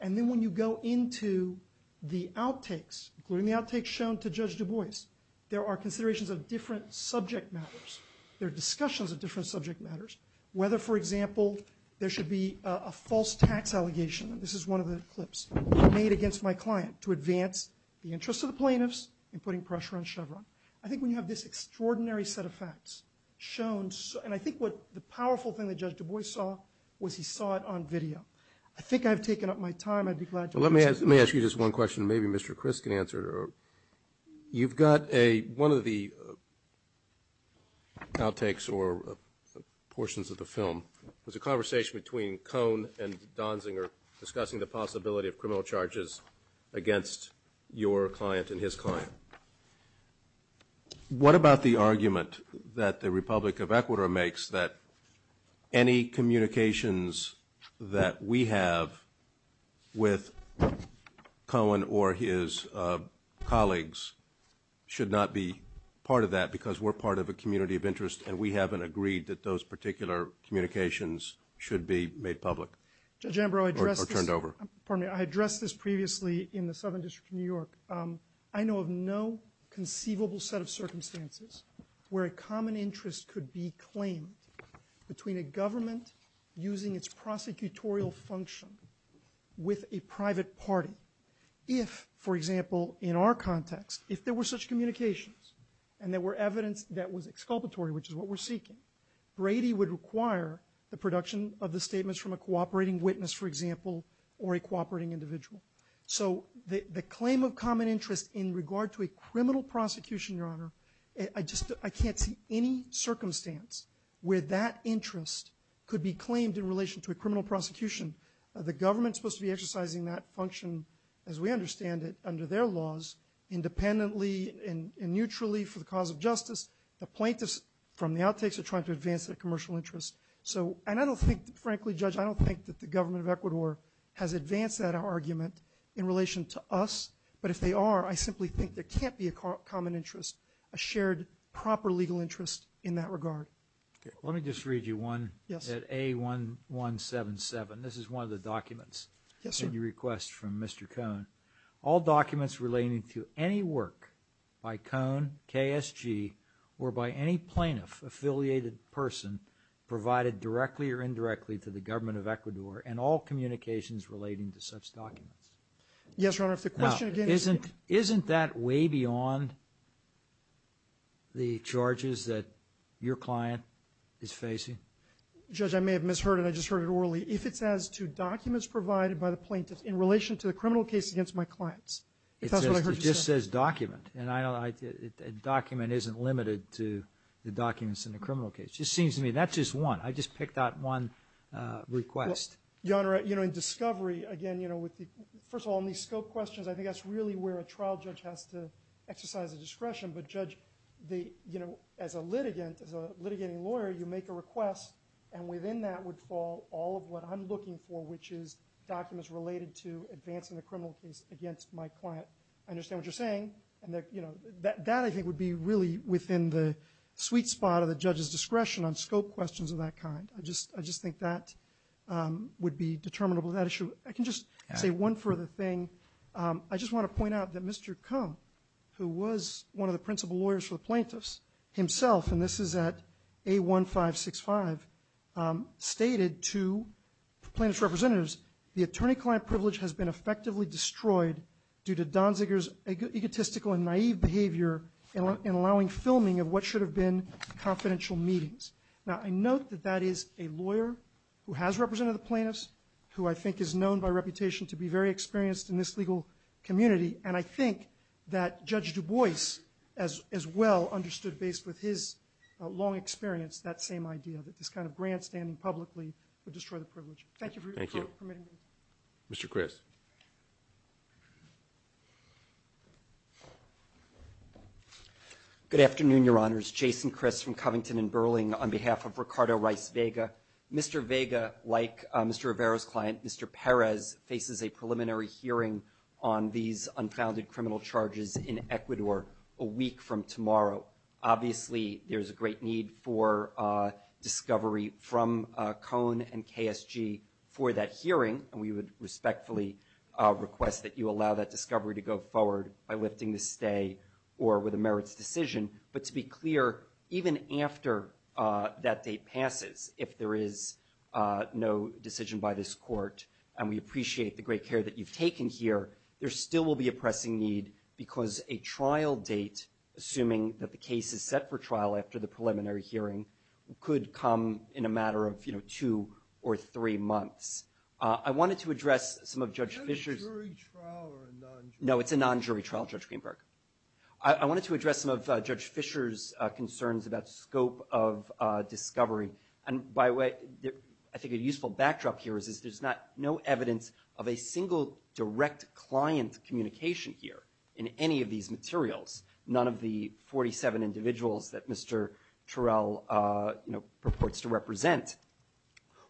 And then when you go into the outtakes, including the outtakes shown to Judge Du Bois, there are considerations of different subject matters. There are discussions of different subject matters, whether, for example, there should be a false tax allegation. This is one of the clips made against my client to advance the interests of the plaintiffs in putting pressure on Chevron. I think we have this extraordinary set of facts shown. And I think the powerful thing that Judge Du Bois saw was he saw it on video. I think I've taken up my time. Let me ask you just one question. Maybe Mr. Chris can answer it. You've got one of the outtakes or portions of the film. There's a conversation between Cohn and Donziger discussing the possibility of criminal charges against your client and his client. What about the argument that the Republic of Ecuador makes that any communications that we have with Cohn or his colleagues should not be part of that because we're part of a community of interest and we haven't agreed that those particular communications should be made public or turned over? I addressed this previously in the Southern District of New York. I know of no conceivable set of circumstances where a common interest could be claimed between a government using its prosecutorial function with a private party. If, for example, in our context, if there were such communications and there were evidence that was exculpatory, which is what we're seeking, Brady would require the production of the statements from a cooperating witness, for example, or a cooperating individual. So the claim of common interest in regard to a criminal prosecution, I can't think of any circumstance where that interest could be claimed in relation to a criminal prosecution. The government is supposed to be exercising that function, as we understand it, under their laws, independently and neutrally for the cause of justice to point us from the outtakes of trying to advance a commercial interest. And I don't think, frankly, Judge, I don't think that the government of Ecuador has advanced that argument in relation to us. But if they are, I simply think there can't be a common interest, a shared proper legal interest in that regard. Let me just read you one at A1177. This is one of the documents that you request from Mr. Cohn. All documents relating to any work by Cohn, KSG, or by any plaintiff-affiliated person provided directly or indirectly to the government of Ecuador and all communications relating to such documents. Yes, Your Honor, if the question... Now, isn't that way beyond the charges that your client is facing? Judge, I may have misheard it. I just heard it orally. If it's as to documents provided by the plaintiff in relation to the criminal case against my clients. It just says document. A document isn't limited to the documents in the criminal case. That's just one. I just picked out one request. Your Honor, in discovery, again, first of all, in these scope questions, I think that's really where a trial judge has to exercise his discretion. As a litigating lawyer, you make a request and within that would fall all of what I'm looking for, which is documents related to advancing the criminal case against my client. I understand what you're saying. That, I think, would be really within the sweet spot of the judge's discretion on scope questions of that kind. I just think that would be determinable. I can just say one further thing. I just want to point out that Mr. Come, who was one of the principal lawyers for the plaintiffs, himself, and this is at A1565, stated to plaintiff's representatives the attorney-client privilege has been effectively destroyed due to Donziger's egotistical and naive behavior in allowing filming of what should have been confidential meetings. Now, I note that that is a lawyer who has represented the plaintiffs, who I think is known by reputation to be very experienced in this legal community, and I think that Judge Du Bois as well understood, based with his long experience, that same idea, that this kind of grandstanding publicly would destroy the privilege. Thank you for your time. Mr. Chris. Good afternoon, Your Honors. My name is Jason Chris from Covington and Burling on behalf of Ricardo Rice Vega. Mr. Vega, like Mr. Rivera's client, Mr. Perez, faces a preliminary hearing on these unfounded criminal charges in Ecuador a week from tomorrow. Obviously, there's a great need for discovery from Cone and KSG for that hearing, and we would respectfully request that you allow that discovery to go forward by lifting the stay or with a merits decision. But to be clear, even after that date passes, if there is no decision by this court, and we appreciate the great care that you've taken here, there still will be a pressing need because a trial date, assuming that the case is set for trial after the preliminary hearing, could come in a matter of two or three months. I wanted to address some of Judge Fisher's No, it's a non-jury trial, Judge Greenberg. I wanted to address some of Judge Fisher's concerns about scope of discovery and I think a useful backdrop here is that there's no evidence of a single direct client communication here in any of these materials. None of the 47 individuals that Mr. Terrell purports to represent.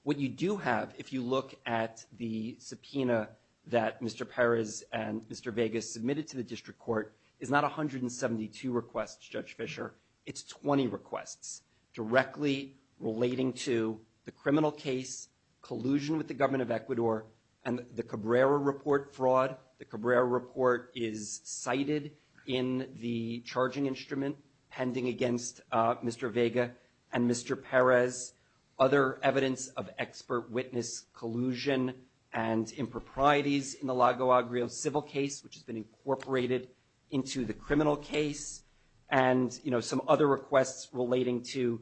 What you do have, if you look at the subpoena that Mr. Perez and Mr. Vega submitted to the district court, is not 172 requests, Judge Fisher. It's 20 requests directly relating to the criminal case, collusion with the government of Ecuador, and the Cabrera report fraud. The Cabrera report is cited in the charging instrument pending against Mr. Vega and Mr. Perez. Other evidence of expert witness collusion and improprieties in the Lago Agrio civil case, which has been incorporated into the criminal case, and some other requests relating to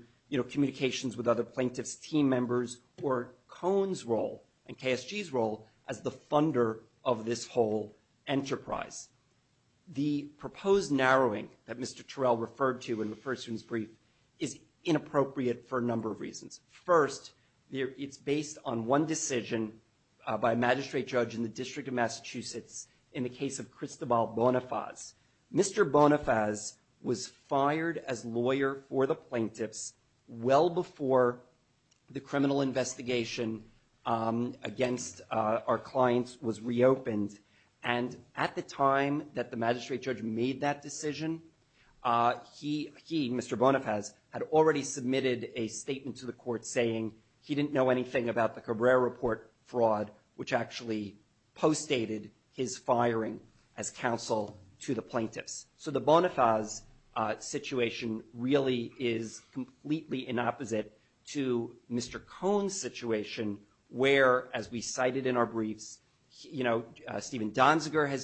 communications with other plaintiffs' team members or Cohen's role and KSG's role as the funder of this whole enterprise. The proposed narrowing that Mr. Terrell referred to in the first brief is inappropriate for a number of reasons. First, it's based on one decision by a magistrate judge in the District of Massachusetts in the case of Cristobal Bonifaz. Mr. Bonifaz was fired as lawyer for the plaintiffs well before the criminal investigation against our clients was reopened. And at the time that the magistrate judge made that decision, he, Mr. Bonifaz, had already submitted a statement to the court saying he didn't know anything about the Cabrera report fraud, which actually postdated his firing as counsel to the plaintiffs. So the Bonifaz situation really is completely in opposite to Mr. Cohen's situation, where as we cited in our brief, you know, Steven was a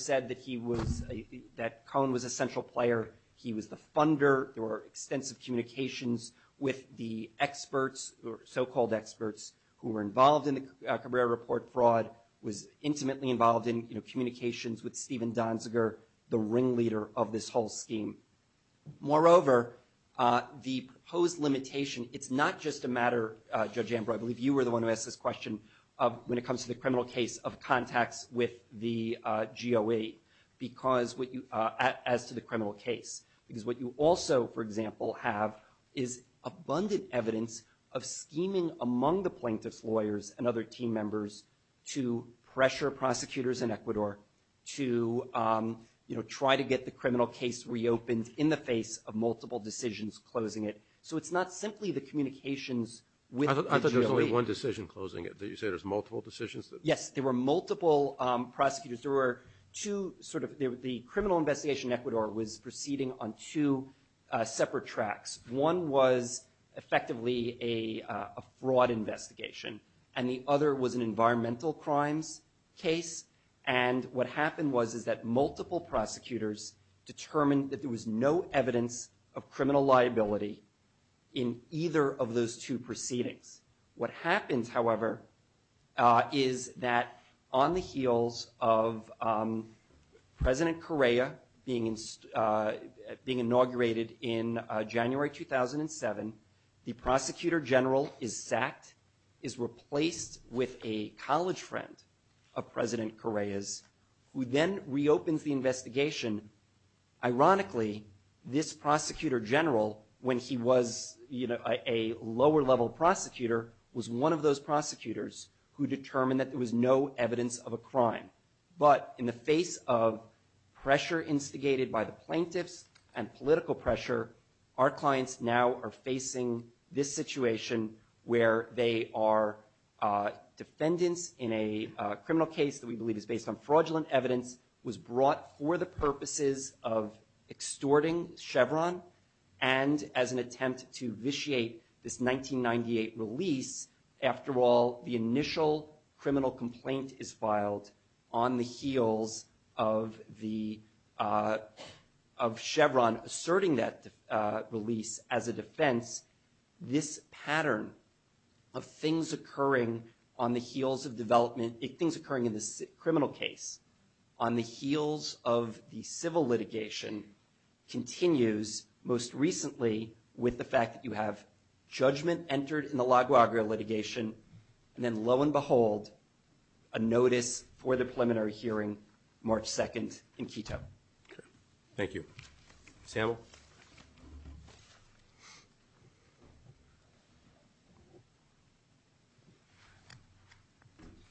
central player, he was the funder, there were extensive communications with the experts or so-called experts who were involved in the Cabrera report fraud, was intimately involved in communications with Steven Donziger, the ringleader of this whole scheme. Moreover, the proposed limitation, it's not just a matter Judge Amber, I believe you were the one who asked this question when it comes to the criminal case of contacts with the criminal case. Because what you also, for example, have is abundant evidence of scheming among the plaintiffs' lawyers and other team members to pressure prosecutors in Ecuador to, you know, try to get the criminal case reopened in the face of multiple decisions closing it. So it's not simply the communications I thought there was only one decision closing it. Did you say there's multiple decisions? Yes, there were multiple prosecutors. There were two sort of, the criminal investigation in Ecuador was proceeding on two separate tracks. One was effectively a fraud investigation and the other was an environmental crime case and what happened was that multiple prosecutors determined that there was no evidence of criminal liability in either of those two proceedings. What happens, however, is that on the heels of President Correa being inaugurated in January 2007, the prosecutor general is sacked, is replaced with a college friend of President Correa's who then reopens the investigation. Ironically, this prosecutor general when he was, you know, a lower level prosecutor was one of those prosecutors who determined that there was no evidence of a crime. But in the face of pressure instigated by the plaintiffs and political pressure, our clients now are facing this situation where they are defendants in a criminal case that we believe is based on fraudulent evidence, was brought for the purposes of extorting Chevron and as an attempt to vitiate this 1998 release, after all, the initial criminal complaint is filed on the heels of Chevron asserting that release as a defense. This pattern of things occurring on the heels of development, things occurring in the criminal case on the heels of the civil litigation continues most recently with the fact that you have judgment entered in the LaGuardia litigation and then lo and behold a notice for the preliminary hearing March 2nd in Quito. Thank you.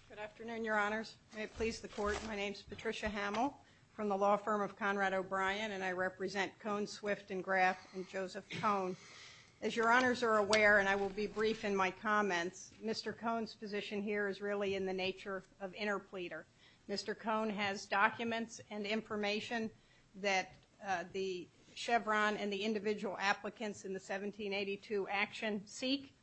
Good afternoon, Your Honors. May I please report, my name is Patricia Hamill from the law firm of Conrad O'Brien and I represent Cone, Swift and Graf and Joseph Cone. As Your Honors are aware, and I will be brief in my comment, Mr. Cone's position here is really in the nature of interpleader. Mr. Cone has documents and information that the Chevron and the individual applicants in the 1782 action seek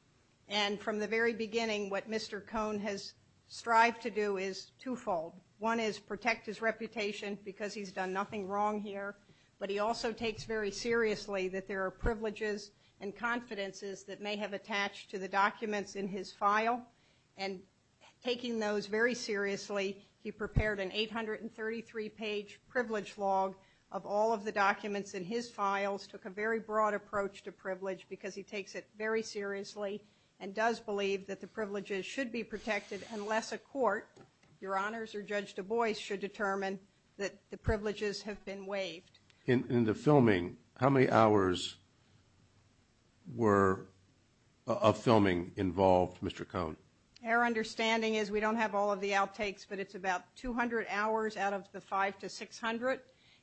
and from the very beginning what Mr. Cone has strived to do is twofold. One is protect his reputation because he's done nothing wrong here, but he also takes very seriously that there are privileges and confidences that may have attached to the documents in his file and taking those very seriously, he prepared an 833 page privilege log of all of the documents in his files, took a very broad approach to privilege because he takes it very seriously and does believe that privileges should be protected unless a court, Your Honors, or Judge Du Bois should determine that privileges have been waived. In the filming, how many hours were of filming involved, Mr. Cone? Our understanding is we don't have all of the outtakes, but it's about 200 hours out of the five to six hundred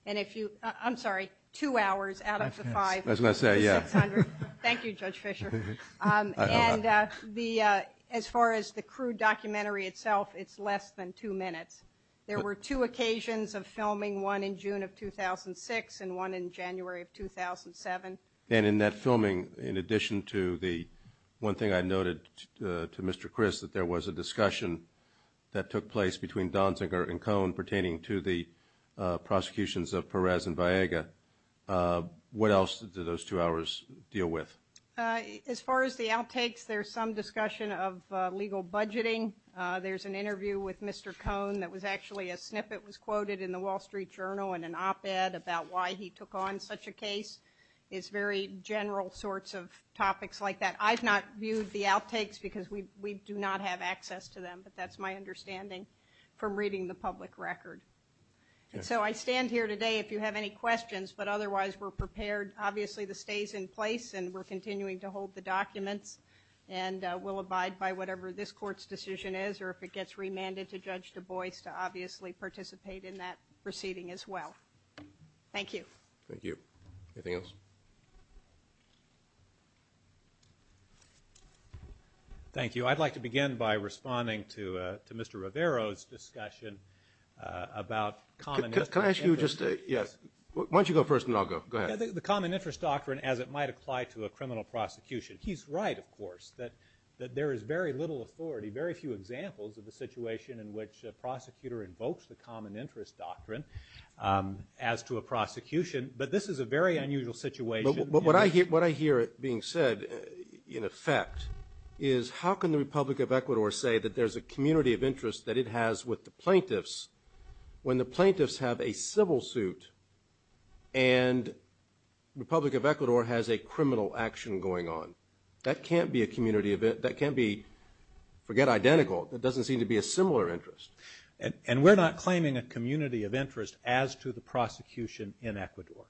and if you, I'm sorry, two hours out of the five to six hundred. Thank you, Judge Fisher. And as far as the crew documentary itself, it's less than two minutes. There were two occasions of filming, one in June of 2006 and one in January of 2007. And in that filming, in addition to the one thing I noted to Mr. Chris, that there was a discussion that took place between Donziger and Cone pertaining to the prosecutions of Perez and Vallega, what else did those two hours deal with? As far as the outtakes, there's some discussion of legal budgeting. There's an interview with Mr. Cone that was actually a snippet was quoted in the Wall Street Journal in an op-ed about why he took on such a case. It's very general sorts of topics like that. I've not viewed the outtakes because we do not have access to them, but that's my understanding from reading the public record. So I stand here today if you have any questions, but otherwise we're prepared. Obviously the stay's in place and we're continuing to hold the documents and we'll abide by whatever this court's decision is or if it gets remanded to Judge Du Bois to obviously participate in that proceeding as well. Thank you. Anything else? Thank you. I'd like to begin by responding to Mr. Rivero's discussion about common interest. Why don't you go first and then I'll go. The common interest doctrine as it might apply to a criminal prosecution. He's right, of course, that there is very little authority, very few examples of the situation in which a prosecutor invokes the common interest doctrine as to a prosecution, but this is a very unusual situation. What I hear being said, in effect, is how can the Republic of Ecuador say that there's a community of interest that it has with the plaintiffs when the plaintiffs have a civil suit and the Republic of Ecuador has a criminal action going on. That can't be a community that can't be, forget identical, it doesn't seem to be a similar interest. And we're not claiming a community of interest as to the prosecution in Ecuador.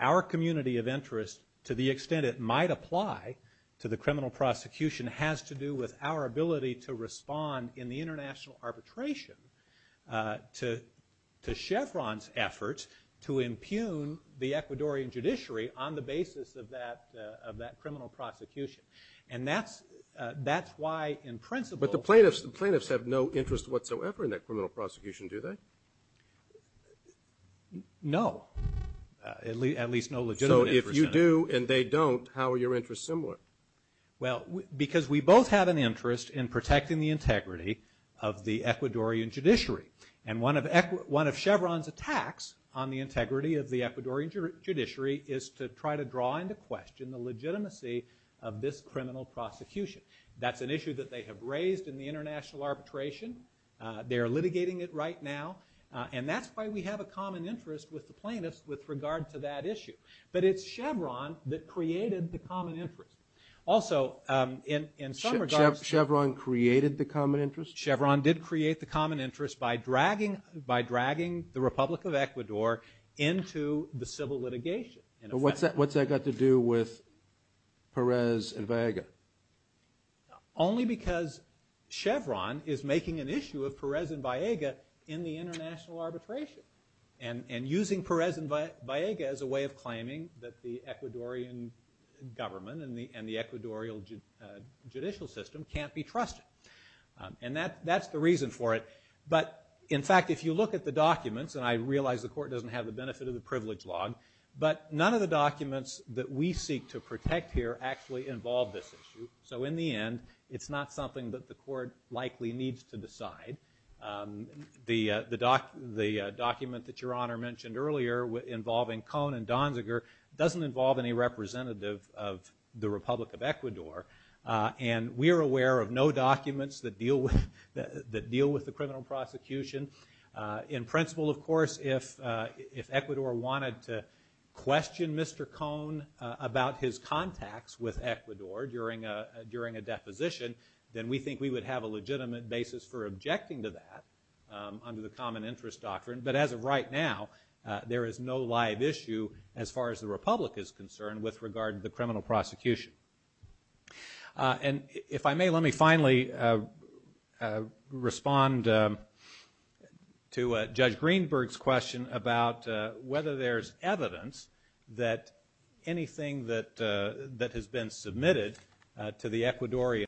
Our community of interest, to the extent it might apply to the criminal prosecution, has to do with our ability to respond in the international arbitration to Chevron's efforts to impugn the Ecuadorian judiciary on the basis of that criminal prosecution. And that's why, in principle... But the plaintiffs have no interest whatsoever in that criminal prosecution, do they? No. At least no legitimate interest. So if you do and they don't, how are your interests similar? Because we both have an interest in protecting the integrity of the Ecuadorian judiciary. And one of Chevron's attacks on the integrity of the Ecuadorian judiciary is to try to draw into question the legitimacy of this criminal prosecution. That's an issue that they have raised in the international arbitration. They're litigating it right now. And that's why we have a common interest with the plaintiffs with regard to that issue. But it's Chevron that created the common interest. Also, in some regards... Chevron created the common interest? Chevron did create the common interest by dragging the Republic of Ecuador into the civil litigation. But what's that got to do with Perez and Vallega? Only because Chevron is making an issue of Perez and Vallega in the international arbitration. And using Perez and Vallega as a way of claiming that the Ecuadorian government and the Ecuadorian judicial system can't be trusted. And that's the reason for it. But in fact, if you look at the documents, and I realize the court doesn't have the benefit of the privilege law, but none of the documents that we seek to protect here actually involve this issue. So in the end, it's not something that the court likely needs to decide. The document that Your Honor mentioned earlier involving Cohn and Donziger doesn't involve any representative of the Republic of Ecuador. And we are aware of no documents that deal with the criminal prosecution. In principle, of course, if Ecuador wanted to question Mr. Cohn about his contacts with Ecuador during a deposition, then we think we would have a legitimate basis for objecting to that under the common interest doctrine. But as of right now, there is no live issue as far as the Republic is concerned with regard to the criminal prosecution. And if I may, let me finally respond to Judge Greenberg's question about whether there's evidence that anything that has been submitted to the Court of Arbitration regarding Cohn and Donziger evidence-based indictment. to respond to that question. Thank you.